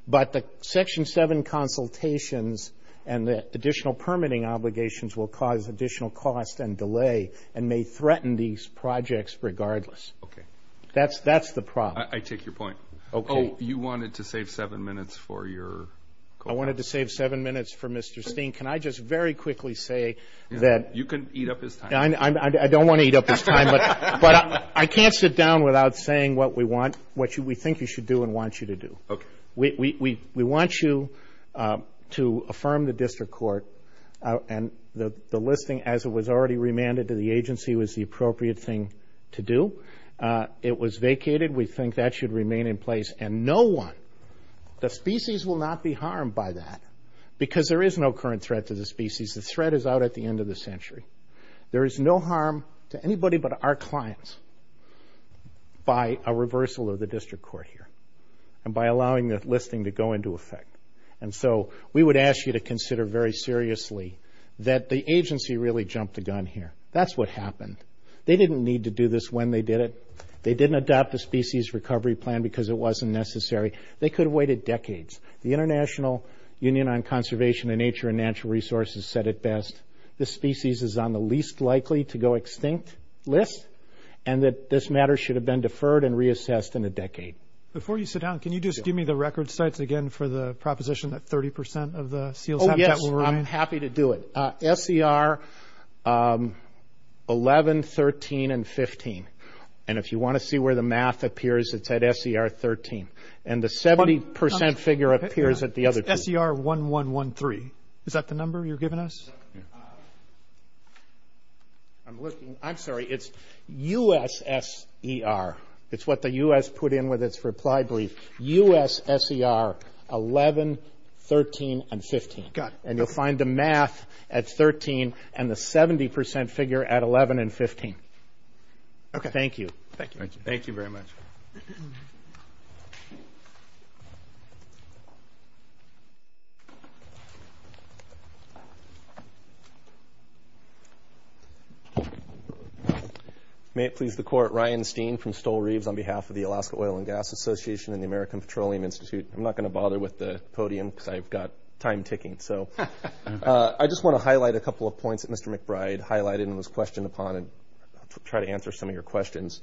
but the Section 7 consultations and the additional permitting obligations will cause additional cost and delay and may threaten these projects regardless. Okay. That's, that's the problem. I take your point. Okay. Oh, you wanted to save seven minutes for your. I wanted to save seven minutes for Mr. Steen. Can I just very quickly say that you can eat up his time. I don't want to eat up his time, but I can't sit down without saying what we want, what we think you should do and want you to do. Okay. We, we, we want you to affirm the district court and the listing as it was already remanded to the agency was the appropriate thing to do. It was vacated. We think that should remain in place and no one, the species will not be harmed by that because there is no current threat to the species. The threat is out at the end of the century. There is no harm to anybody but our clients by a reversal of the district court here and by allowing the listing to go into effect. And so we would ask you to consider very seriously that the agency really jumped the gun here. That's what happened. They didn't need to do this when they did it. They didn't adopt the species recovery plan because it wasn't necessary. They could have waited decades. The international union on conservation and nature and natural resources said it best. The species is on the least likely to go extinct list and that this matter should have been deferred and reassessed in a decade. Before you sit down, can you just give me the record sites again for the proposition that 30% of the seals? Oh yes. I'm happy to do it. FCR 11, 13 and 15. And if you want to see where the math appears, it's at SCR 13. And the 70% figure appears at the other two. SCR 1113. Is that the number you're giving us? I'm sorry. It's USSER. It's what the US put in with its reply brief. USSER 11, 13 and 15. And you'll find the math at 13 and the 70% figure at 11 and 15. Okay. Thank you. Thank you. Thank you very much. May it please the court. Ryan Steen from Stoll Reeves on behalf of the Alaska Oil and Gas Association and the American Petroleum Institute. I'm not going to bother with the podium because I've got time ticking. So I just want to highlight a couple of points that Mr. McBride highlighted and was questioned upon and try to answer some of your questions.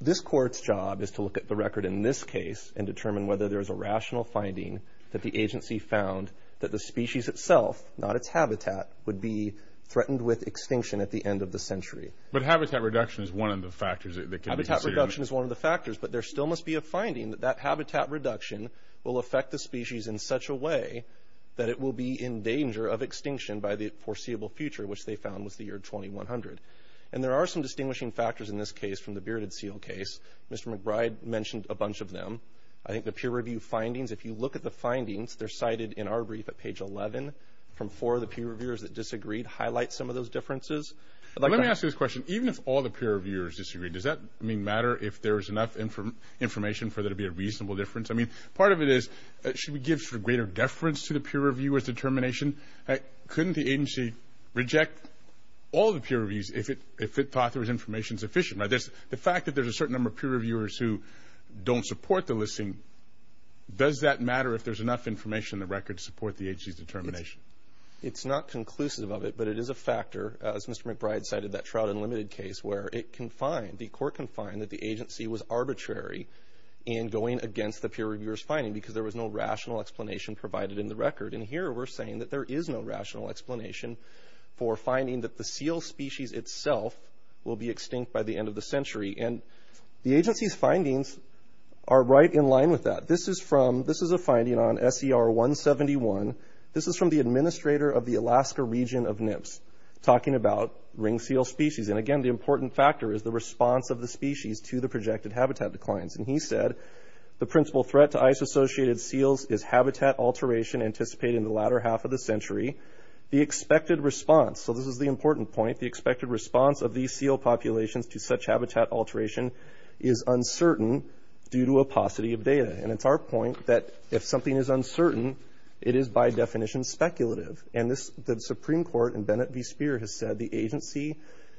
This court's job is to look at the record in this case and determine whether there's a rational finding that the agency found that the species itself, not its habitat, would be threatened with extinction at the end of the century. But habitat reduction is one of the factors that can be considered. Habitat reduction is one of the factors, but there still must be a finding that that habitat reduction will affect the species in such a way that it will be in danger of extinction by the foreseeable future, which they found was the year 2100. And there are some distinguishing factors in this case from the Bearded Seal case. Mr. McBride mentioned a bunch of them. I think the peer review findings, if you look at the findings, they're cited in our brief at page 11 from four of the peer reviewers that disagreed, highlight some of those differences. Let me ask you this question. Even if all the peer reviewers disagree, does that mean matter if there is enough information for there to be a greater deference to the peer reviewer's determination? Couldn't the agency reject all the peer reviews if it thought there was information sufficient? Now, the fact that there's a certain number of peer reviewers who don't support the listing, does that matter if there's enough information in the record to support the agency's determination? It's not conclusive of it, but it is a factor, as Mr. McBride cited, that Shroud Unlimited case, where the court can find that the agency was arbitrary in going against the peer reviewer's rational explanation provided in the record. Here, we're saying that there is no rational explanation for finding that the seal species itself will be extinct by the end of the century. The agency's findings are right in line with that. This is a finding on SER 171. This is from the administrator of the Alaska region of NIPS talking about ring seal species. Again, the important factor is the response of the species to the projected habitat declines. He said, the principal threat to ice-associated seals is habitat alteration anticipated in the latter half of the century. The expected response, so this is the important point, the expected response of these seal populations to such habitat alteration is uncertain due to a paucity of data. It's our point that if something is uncertain, it is by definition speculative. The Supreme Court in Bennett v. Speer has said the agency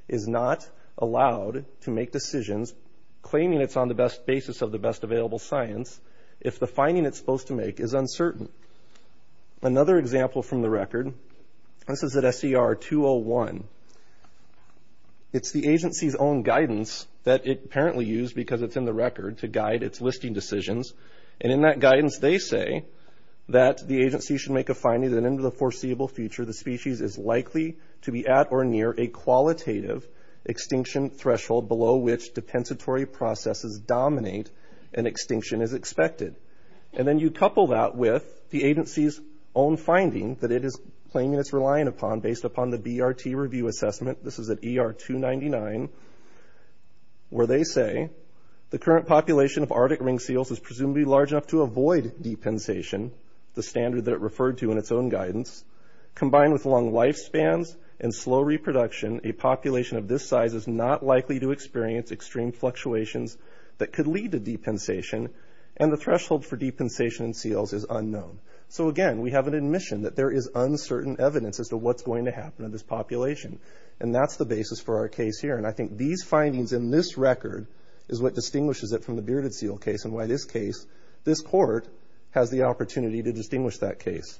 is not allowed to make decisions claiming it's on the basis of the best available science if the finding it's supposed to make is uncertain. Another example from the record, this is at SER 201. It's the agency's own guidance that it apparently used because it's in the record to guide its listing decisions. In that guidance, they say that the agency should make a finding that in the foreseeable future, the species is likely to be at or near a qualitative extinction threshold below which depensatory processes dominate and extinction is expected. Then you couple that with the agency's own findings that it is claiming it's relying upon based upon the BRT review assessment. This is at ER 299 where they say the current population of Arctic ring seals is presumably large enough to avoid depensation, the standard that it referred to in its own guidance, combined with long lifespans and slow reproduction, a population of this size is not likely to experience extreme fluctuations that could lead to depensation and the threshold for depensation in seals is unknown. Again, we have an admission that there is uncertain evidence as to what's going to happen in this population. That's the basis for our case here. I think these findings in this record is what distinguishes it from the bearded seal case and why in this case, this court has the opportunity to distinguish that case.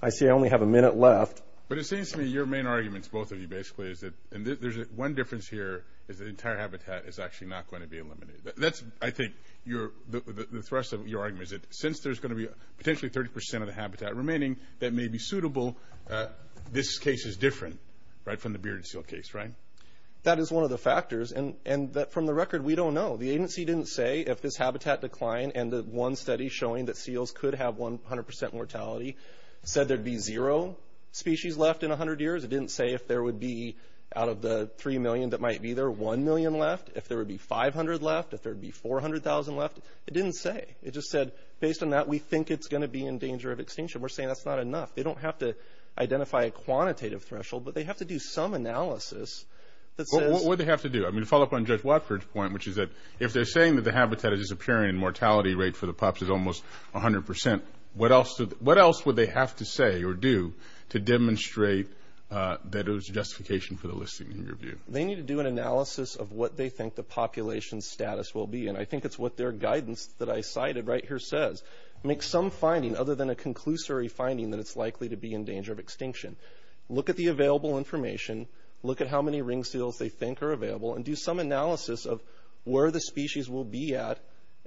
I see I only have a minute left. But it seems to me your main arguments, both of you basically, is that one difference here is the entire habitat is actually not going to be eliminated. I think the thrust of your argument is that since there's going to be potentially 30% of the habitat remaining that may be suitable, this case is different from the bearded seal case, right? That is one of the factors. From the record, we don't know. The agency didn't say if this habitat decline and the one study showing that seals could have 100% mortality said there'd be zero species left in 100 years. It didn't say if there would be out of the 3 million that might be 1 million left, if there would be 500 left, if there'd be 400,000 left. It didn't say. It just said based on that, we think it's going to be in danger of extinction. We're saying that's not enough. They don't have to identify a quantitative threshold, but they have to do some analysis. What would they have to do? I'm going to follow up on Jeff Watford's point, which is that if they're saying that the habitat is disappearing and mortality rate for the props is almost 100%, what else would they have to say or do to demonstrate that it was justification for the listing in your view? They need to do an analysis of what they think the population status will be. I think it's what their guidance that I cited right here says, make some finding other than a conclusory finding that it's likely to be in danger of extinction. Look at the available information. Look at how many ring seals they think are available and do some analysis of where the species will be at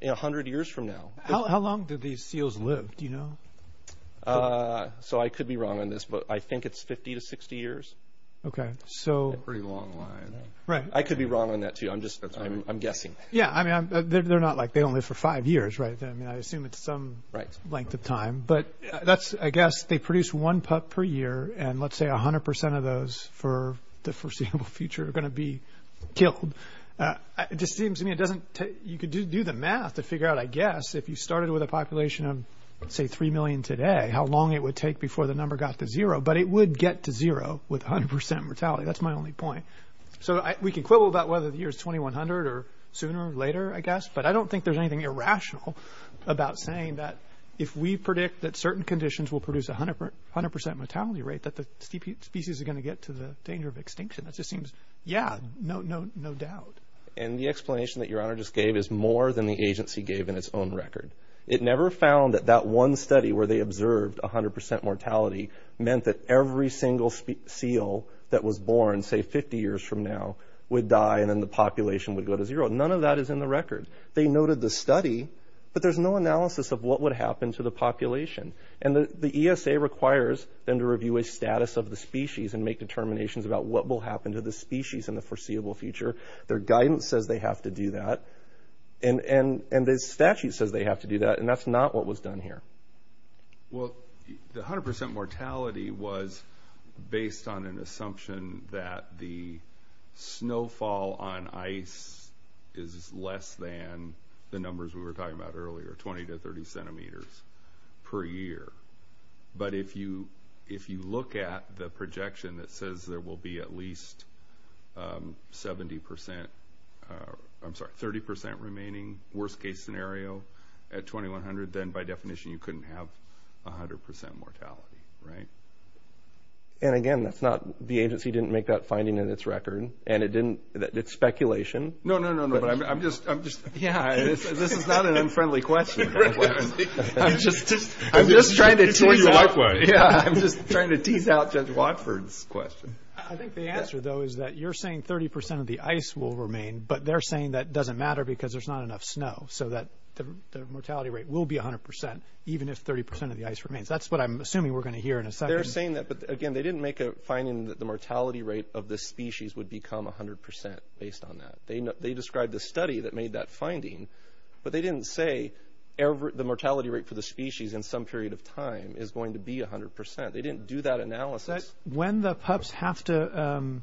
100 years from now. How long did these seals live? Do you know? Uh, so I could be wrong on this, but I think it's 50 to 60 years. Okay. So pretty long line. Right. I could be wrong on that too. I'm just, I'm guessing. Yeah. I mean, they're not like they only for five years, right? I mean, I assume it's some right length of time, but that's, I guess they produce one pup per year and let's say a hundred percent of those for the foreseeable future are going to be killed. It just seems to me, it doesn't, you could do the math to figure out, I guess, if you started with a population of say 3 million today, how long it would take before the number got to zero, but it would get to zero with a hundred percent mortality. That's my only point. So we can quibble about whether the year is 2100 or sooner or later, I guess, but I don't think there's anything irrational about saying that if we predict that certain conditions will produce a hundred percent mortality rate, that the species is going to get to the danger of extinction. That just seems, yeah, no doubt. And the explanation that your honor just gave is more than the agency gave in its own record. It never found that that one study where they observed a hundred percent mortality meant that every single seal that was born, say 50 years from now, would die and then the population would go to zero. None of that is in the record. They noted the study, but there's no analysis of what would happen to the population. And the ESA requires them to review a status of the species and make determinations about what will happen to the species in the foreseeable future. Their statute says they have to do that, and that's not what was done here. Well, the hundred percent mortality was based on an assumption that the snowfall on ice is less than the numbers we were talking about earlier, 20 to 30 centimeters per year. But if you look at the projection that says there will be at least 70 percent, I'm sorry, 30 percent remaining worst case scenario at 2100, then by definition, you couldn't have a hundred percent mortality, right? And again, that's not, the agency didn't make that finding in its record, and it didn't, it's speculation. No, no, no, no, but I'm just, yeah, this is not an unfriendly question. I'm just trying to tease out Judge Watford's question. I think the answer though, is that you're saying 30 percent of the ice will remain, but they're saying that doesn't matter because there's not enough snow. So that the mortality rate will be a hundred percent, even if 30 percent of the ice remains. That's what I'm assuming we're going to hear in a second. They're saying that, but again, they didn't make a finding that the mortality rate of the species would become a hundred percent based on that. They described the study that made that finding, but they didn't say the mortality rate for the species in some period of time is going to be a hundred percent. They didn't do that analysis. When the pups have to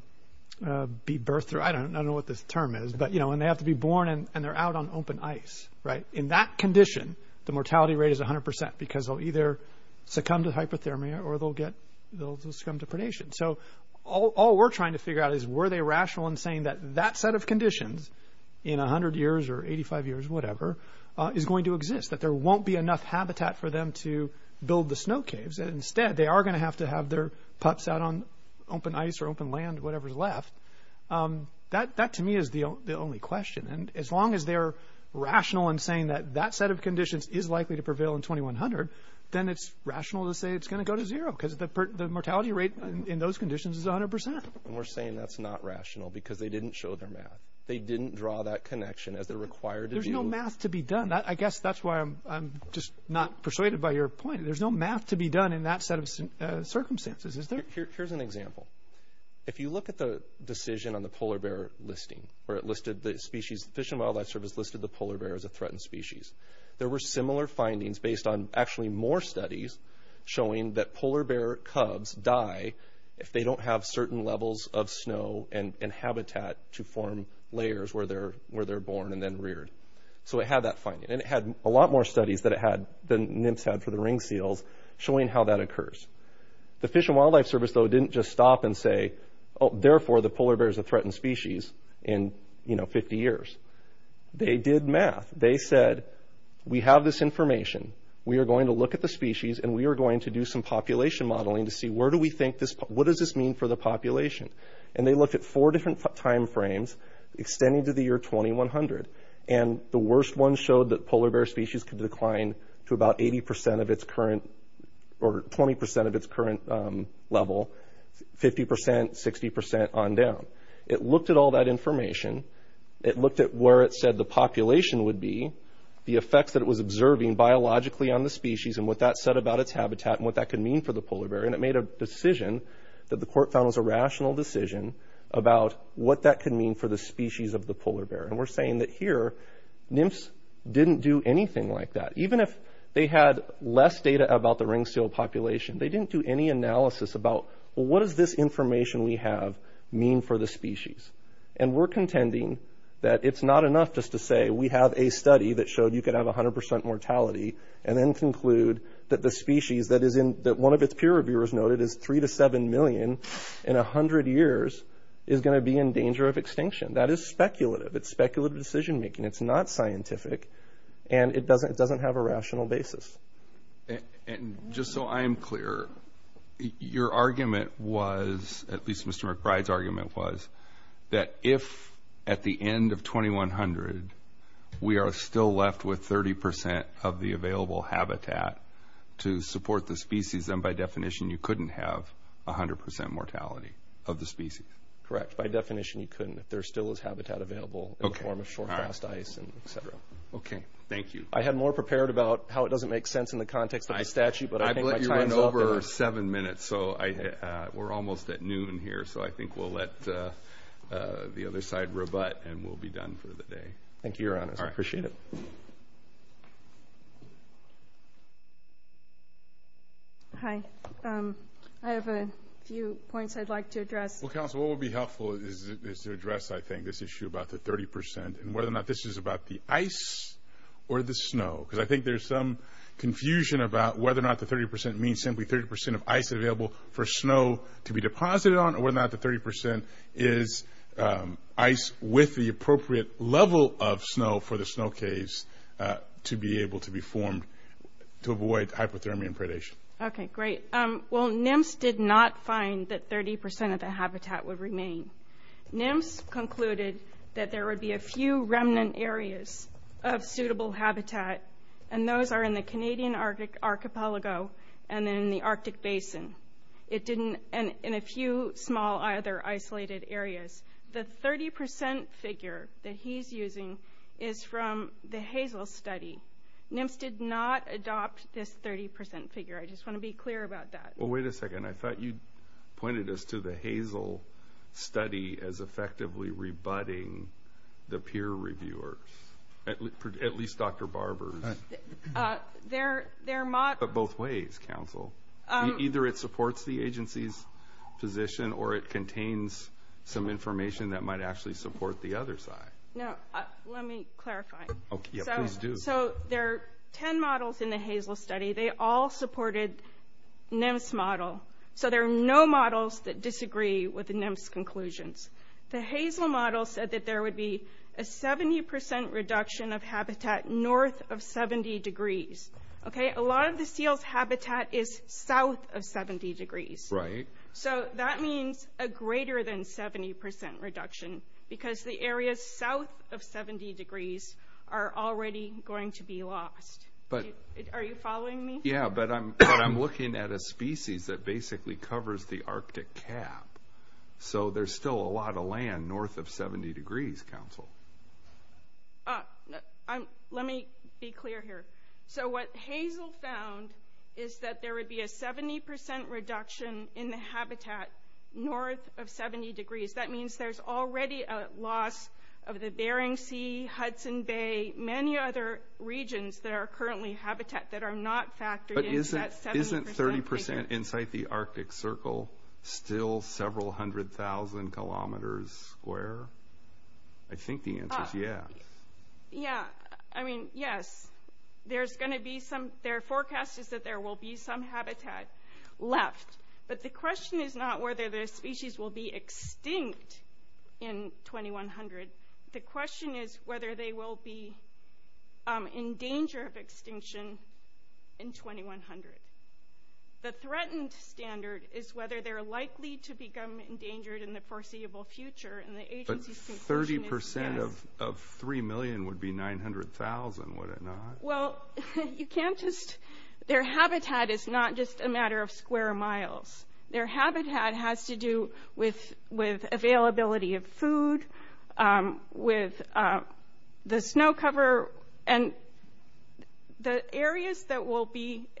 be birthed through, I don't know what this term is, but you know, and they have to be born and they're out on open ice, right? In that condition, the mortality rate is a hundred percent because they'll either succumb to hypothermia or they'll get, they'll succumb to predation. So all we're trying to figure out is were they rational in saying that that set of conditions in a hundred years or 85 years, whatever, is going to exist, that there are going to have to have their pups out on open ice or open land, whatever's left. That, to me, is the only question. And as long as they're rational in saying that that set of conditions is likely to prevail in 2100, then it's rational to say it's going to go to zero because the mortality rate in those conditions is a hundred percent. And we're saying that's not rational because they didn't show their math. They didn't draw that connection as it required. There's no math to be done. I guess that's why I'm just not persuaded by your point. There's no math to be done in that set of circumstances. Is there? Here's an example. If you look at the decision on the polar bear listing or it listed the species, Fish and Wildlife Service listed the polar bear as a threatened species. There were similar findings based on actually more studies showing that polar bear cubs die if they don't have certain levels of snow and habitat to form layers where they're, where they're born and then reared. So it had that finding and it had a lot more studies that it had than NIMS had for the ring field showing how that occurs. The Fish and Wildlife Service, though, didn't just stop and say, oh, therefore the polar bear is a threatened species in, you know, 50 years. They did math. They said we have this information. We are going to look at the species and we are going to do some population modeling to see where do we think this, what does this mean for the population? And they looked at four different time frames extending to the year 2100 and the worst one showed that polar bear species could decline to about 80% of its current or 20% of its current level, 50%, 60% on down. It looked at all that information. It looked at where it said the population would be, the effects that it was observing biologically on the species and what that said about its habitat and what that could mean for the polar bear. And it made a decision that the court found was a rational decision about what that could mean for the species of the polar bear. And we're saying that here, NIMS didn't do anything like that. Even if they had less data about the ring seal population, they didn't do any analysis about what does this information we have mean for the species? And we're contending that it's not enough just to say we have a study that showed you could have 100% mortality and then conclude that the species that one of its peer reviewers noted is 3 to 7 million in 100 years is going to be in danger of extinction. That is speculative. It's speculative decision-making. It's not scientific and it doesn't have a rational basis. And just so I'm clear, your argument was, at least Mr. McBride's argument was, that if at the end of 2100, we are still left with 30% of the available habitat to support the species, then by definition, you couldn't have 100% mortality of the species. Correct. By definition, you couldn't, if there still is habitat available in the form of short-cast ice and et cetera. Okay. Thank you. I had more prepared about how it doesn't make sense in the context of the statute, but I think my time is over. You went over seven minutes, so we're almost at noon here, so I think we'll let the other side rebut and we'll be done for the day. Thank you, Your Honor. I appreciate it. Hi. I have a few points I'd like to address. Well, counsel, what would be helpful is to address, I think, this issue about the 30% and whether or not this is about the ice or the snow, because I think there's some confusion about whether or not the 30% means simply 30% of ice available for snow to be deposited on or whether or not the 30% is ice with the appropriate level of snow for the snow case to be able to be formed to avoid hypothermia and predation. Okay. Great. Well, NIMS did not find that 30% of the habitat would remain. NIMS concluded that there would be a few remnant areas of suitable habitat, and those are in the Canadian archipelago and in the Arctic basin, and in a few small, either isolated areas. The 30% figure that he's using is from the Hazel study. NIMS did not adopt this 30% figure. I just want to be clear about that. Well, wait a second. I thought you pointed us to the Hazel study as effectively rebutting the peer reviewers, at least Dr. Barber's. They're mocked. But both ways, counsel. Either it supports the agency's position or it contains some information that might actually support the other side. Now, let me clarify. Okay. Yeah, please do. So there are 10 models in the Hazel study. They all supported NIMS model. So there are no models that disagree with the NIMS conclusions. The Hazel model said that there would be a 70% reduction of habitat north of 70 degrees. Okay? A lot of the seal's habitat is south of 70 degrees. Right. So that means a greater than 70% reduction, because the areas south of 70 degrees are already going to be lost. Are you following me? Yeah, but I'm looking at a species that basically covers the Arctic cap. So there's still a lot of land north of 70 degrees, counsel. Let me be clear here. So what Hazel found is that there would be a 70% reduction in the habitat north of 70 degrees. That means there's already a loss of the Bering Sea, Hudson Bay, many other regions that are currently habitat that are not factored in at 70%. Isn't 30% inside the Arctic circle still several hundred thousand kilometers square? I think the answer is yes. Yeah. I mean, yes. There's going to be some – their forecast is that there will be some habitat left. But the question is not whether the species will be extinct in 2100. The question is whether they will be in danger of extinction in 2100. The threatened standard is whether they're likely to become endangered in the foreseeable future. But 30% of 3 million would be 900,000, would it not? Well, you can't just – their habitat is not just a matter of square miles. Their habitat has to do with availability of food, with the snow cover, and the areas that will be –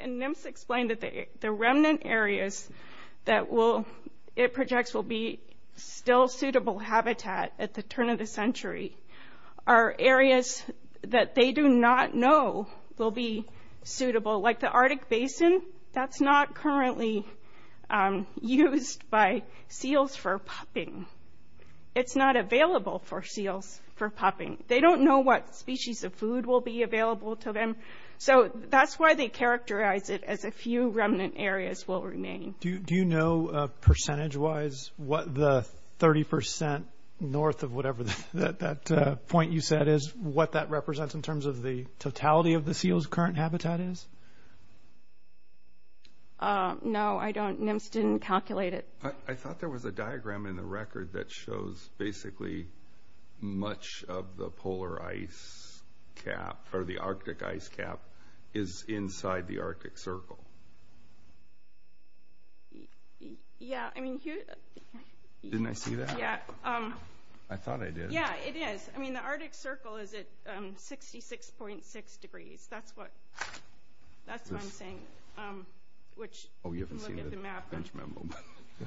at the turn of the century are areas that they do not know will be suitable. Like the Arctic Basin, that's not currently used by seals for popping. It's not available for seals for popping. They don't know what species of food will be available to them. So that's why they characterize it as a few remnant areas will remain. Do you know, percentage-wise, what the 30% north of whatever that point you said is, what that represents in terms of the totality of the seals' current habitat is? No, I don't. NIMS didn't calculate it. I thought there was a diagram in the record that shows basically much of the polar ice cap – or the Arctic ice cap is inside the Arctic Circle. Yeah, I mean, here – Didn't I see that? Yeah. I thought I did. Yeah, it is. I mean, the Arctic Circle is at 66.6 degrees. That's what – that's what I'm saying. Which – Oh, you haven't seen the bench memo.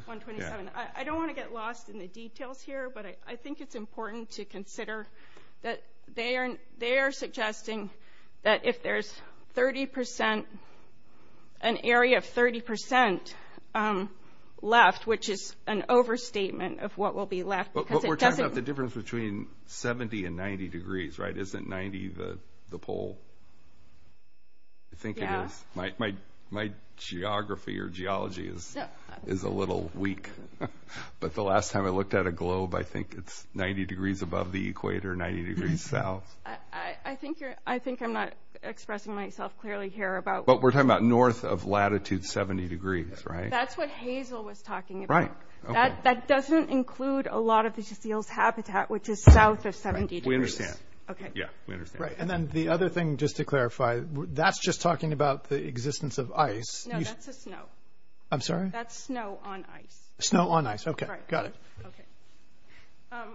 127. I don't want to get lost in the details here, but I think it's important to consider that they are – they are suggesting that if there's 30% – an area of 30% left, which is an overstatement of what will be left, because it doesn't – But we're talking about the difference between 70 and 90 degrees, right? Isn't 90 the pole? I think it is. Yeah. My geography or geology is a little weak. But the last time I looked at a globe, I think it's 90 degrees above the equator, 90 degrees south. I think you're – I think I'm not expressing myself clearly here about – But we're talking about north of latitude 70 degrees, right? That's what Hazel was talking about. Right. Okay. That doesn't include a lot of the field's habitat, which is south of 70 degrees. Right. We understand. Okay. Yeah. We understand. Right. And then the other thing, just to clarify, that's just talking about the existence of ice. No, that's the snow. I'm sorry? That's snow on ice. Snow on ice. Okay. Got it. Okay.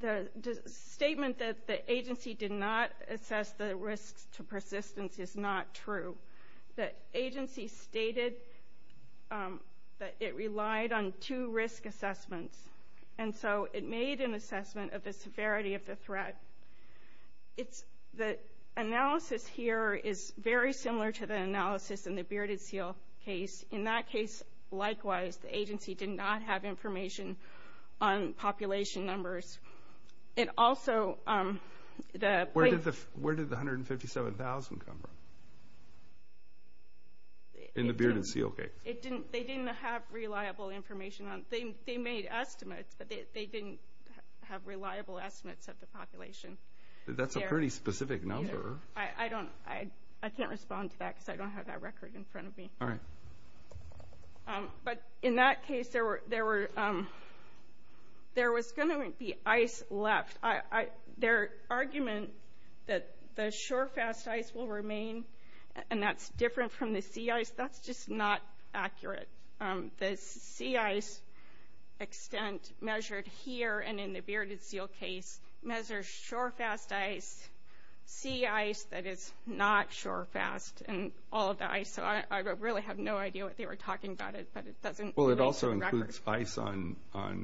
The statement that the agency did not assess the risk to persistence is not true. The agency stated that it relied on two risk assessments. And so it made an assessment of the severity of the threat. It's – the analysis here is very similar to the analysis in the Bearded Seal case. In that case, likewise, the agency did not have information on population numbers. It also – the – Where did the – where did the 157,000 come from in the Bearded Seal case? It didn't – they didn't have reliable information on – they made estimates, but they didn't have reliable estimates of the population. That's a pretty specific number. I don't – I can't respond to that because I don't have that record in front of me. All right. But in that case, there were – there was going to be ice left. Their argument that the shorefast ice will remain, and that's different from the sea ice, that's just not accurate. The sea ice extent measured here and in the Bearded Seal case measures shorefast ice, sea ice that is not shorefast, and all of the ice. So I really have no idea what they were talking about, but it doesn't – Well, it also includes ice on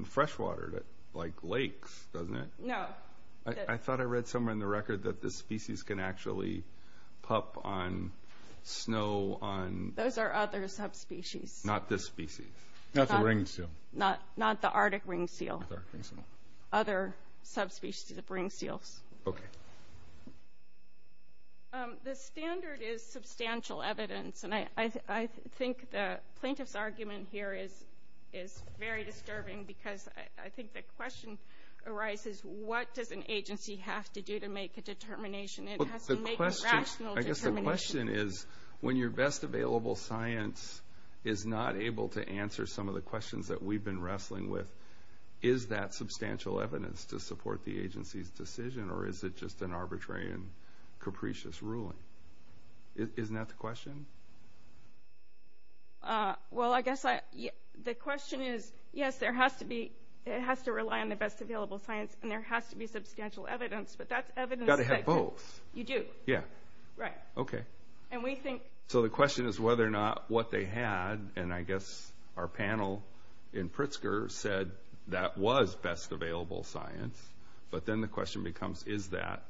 freshwater, like lakes, doesn't it? No. I thought I read somewhere in the record that the species can actually pup on snow on – Those are other subspecies. Not this species. Not the Ringed Seal. Not the Arctic Ringed Seal. Other subspecies of Ringed Seal. Okay. The standard is substantial evidence, and I think the plaintiff's argument here is very disturbing because I think the question arises, what does an agency have to do to make a determination? It has to make a rational determination. I guess the question is, when your best available science is not able to answer some of the questions that we've been wrestling with, is that substantial evidence to support the agency's decision, or is it just an arbitrary and capricious ruling? Isn't that the question? Well, I guess I – the question is, yes, there has to be – it has to rely on the best available science, and there has to be substantial evidence, but that's evidence – But it has both. You do. Yeah. Right. Okay. And we think – So the question is whether or not what they had – and I guess our panel in Pritzker said that was best available science, but then the question becomes, is that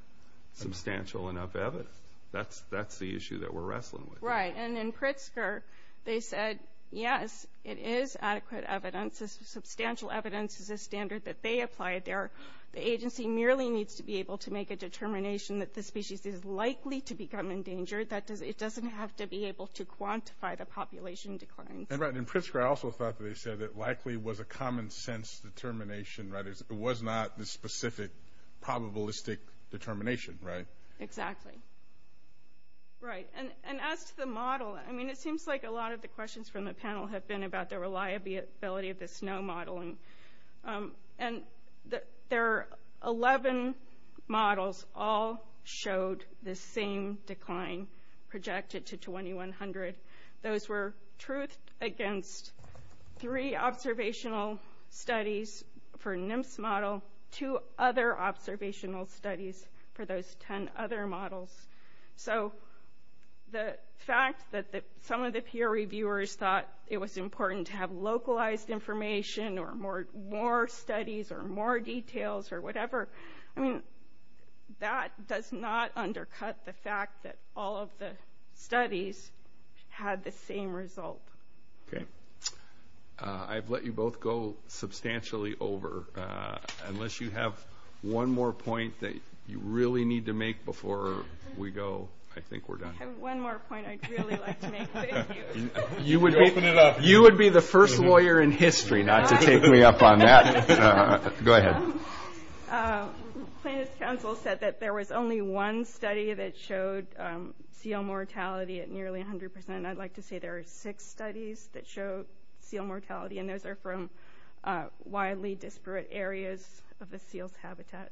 substantial enough evidence? That's the issue that we're wrestling with. Right. And in Pritzker, they said, yes, it is adequate evidence. It's substantial evidence. It's a standard that they applied there. The agency merely needs to be able to make a determination that the species is likely to become endangered. It doesn't have to be able to quantify the population decline. Right. In Pritzker, I also thought that they said it likely was a common-sense determination, right? It was not the specific probabilistic determination, right? Exactly. Right. And as the model – I mean, it seems like a lot of the questions from the panel have been about the reliability of the SNO modeling. And there are 11 models all showed the same decline projected to 2100. Those were truth against three observational studies for NIMS model, two other observational studies for those 10 other models. So the fact that some of the peer reviewers thought it was important to have localized information or more studies or more details or whatever, I mean, that does not undercut the fact that all of the studies had the same results. Okay. I've let you both go substantially over. Unless you have one more point that you really need to make before we go, I think we're done. One more point I'd really like to make. Thank you. You would be the first lawyer in history not to take me up on that. Go ahead. The plaintiff's counsel said that there was only one study that showed seal mortality at nearly 100 percent. I'd like to say there are six studies that showed seal mortality, and those are from widely disparate areas of the seal's habitat.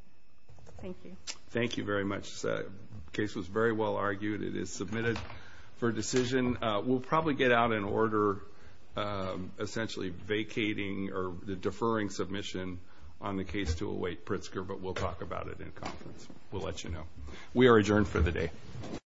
Thank you. Thank you very much. The case was very well argued. It is submitted for decision. We'll probably get out an order essentially vacating or deferring submission on the case to a white Pritzker, but we'll talk about it in conference. We'll let you know. We are adjourned for the day.